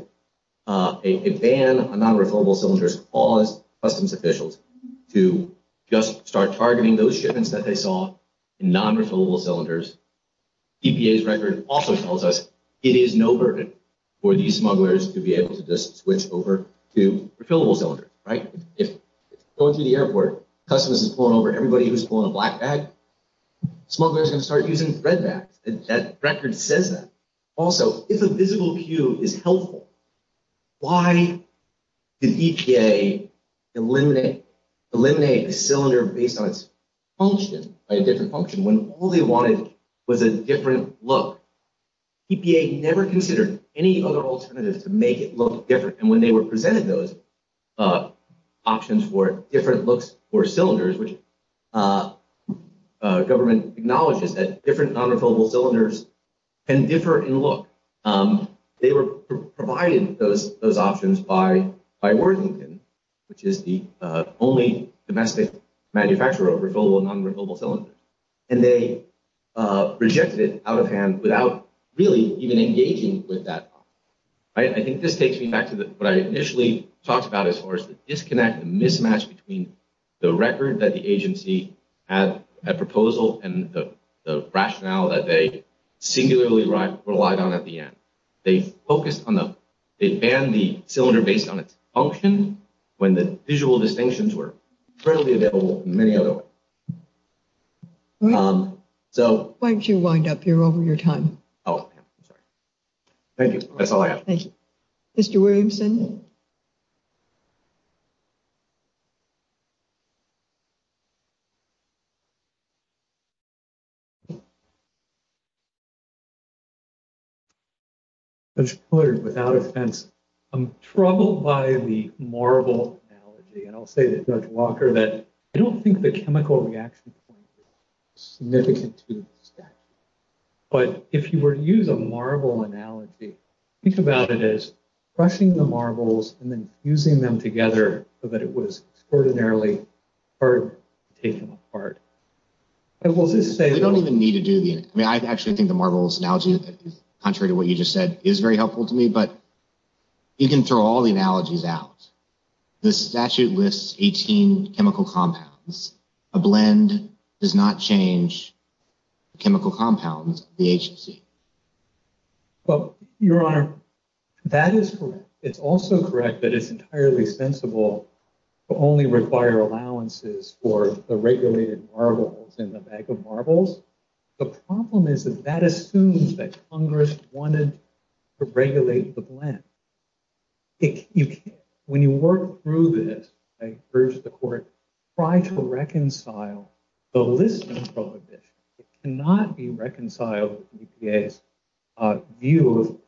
a ban on non-refillable cylinders caused customs officials to just start targeting those shipments that they saw in non-refillable cylinders, EPA's record also tells us it is no burden for these smugglers to be able to just switch over to refillable cylinders, right? So if you go to the airport, customs is pulling over everybody who's pulling black bags, smugglers can start using red bags. That record says that. Also, if a visual cue is helpful, why did EPA eliminate a cylinder based on its function, a different function, when all they wanted was a different look? EPA never considered any other alternatives to make it look different. And when they were presented those options for different looks for cylinders, which government acknowledges that different non-refillable cylinders can differ in look, they were provided those options by Worthington, which is the only domestic manufacturer of refillable non-refillable cylinders. And they rejected it out of hand without really even engaging with that. I think this takes me back to what I initially talked about as far as the disconnect and mismatch between the record that the agency has a proposal and the rationale that they singularly relied on at the end. They focused on the, they banned the cylinder based on its function when the visual distinctions were readily available in many other ways. Why don't you wind up? You're over your time. Oh, thank you. That's all I have. Thank you. Mr. Williamson? Without offense, I'm troubled by the marble analogy. And I'll say to Judge Walker that I don't think the chemical reaction point is significant to this statute. But if you were to use a marble analogy, think about it as crushing the marbles and then fusing them together so that it was extraordinarily hard to take apart. I will just say that I don't even need to do this. I mean, I actually think the marbles analogy, contrary to what you just said, is very helpful to me. But you can throw all the analogies out. The statute lists 18 chemical compounds. A blend does not change chemical compounds of the agency. Well, Your Honor, that is correct. It's also correct that it's entirely sensible to only require allowances for the regulated marbles in the bag of marbles. The problem is that that assumes that Congress wanted to regulate the blend. When you work through this, I encourage the Court to try to reconcile the listing proposition. It cannot be reconciled with the EPA's view of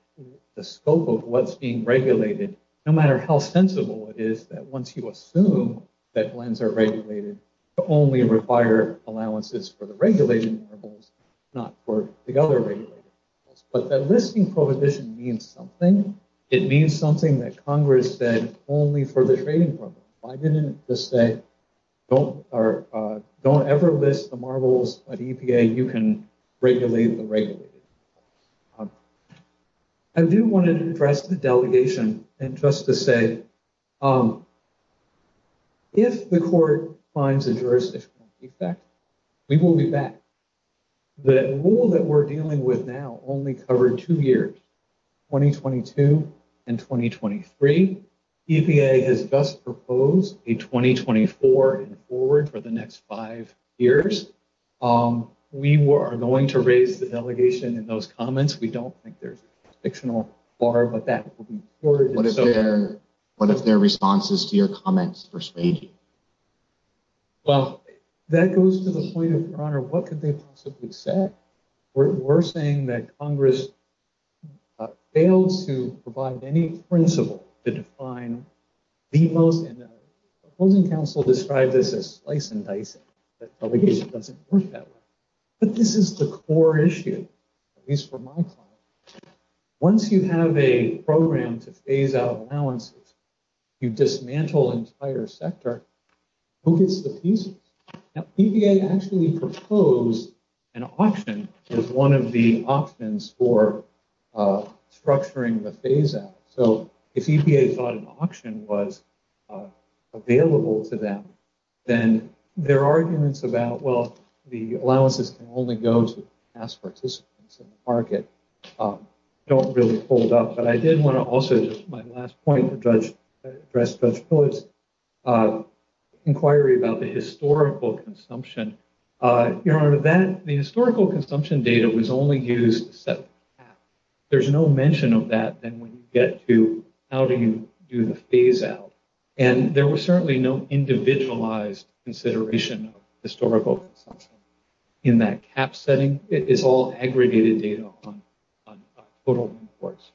the scope of what's being regulated. No matter how sensible it is that once you assume that blends are regulated, you only require allowances for the regulated marbles, not for the other regulated marbles. But that listing proposition means something. It means something that Congress said only for the trading purpose. I didn't just say, don't ever list the marbles at EPA. You can regulate the regulated marbles. I do want to address the delegation and just to say, if the Court finds a jurisdictional defect, we will be back. The rule that we're dealing with now only covered two years, 2022 and 2023. EPA has just proposed a 2024 and forward for the next five years. We are going to raise the delegation in those comments. We don't think there's a jurisdictional bar, but that will be supported. What are their responses to your comments for staging? That goes to the point of, Your Honor, what could they possibly say? We're saying that Congress fails to provide any principle to define the most inevitable. The Holding Council described this as slice and dice, but the delegation doesn't want that. But this is the core issue, at least for my client. Once you have a program to phase out allowances, you dismantle the entire sector. EPA actually proposed an auction as one of the options for structuring the phase-out. If EPA thought an auction was available to them, then their arguments about, well, the allowances can only go to past participants in the market, don't really hold up. But I did want to also, my last point to address Judge Phyllis' inquiry about the historical consumption. Your Honor, the historical consumption data was only used to set up a cap. There's no mention of that when we get to how do you do the phase-out. And there was certainly no individualized consideration of historical consumption in that cap setting. It is all aggregated data on total imports.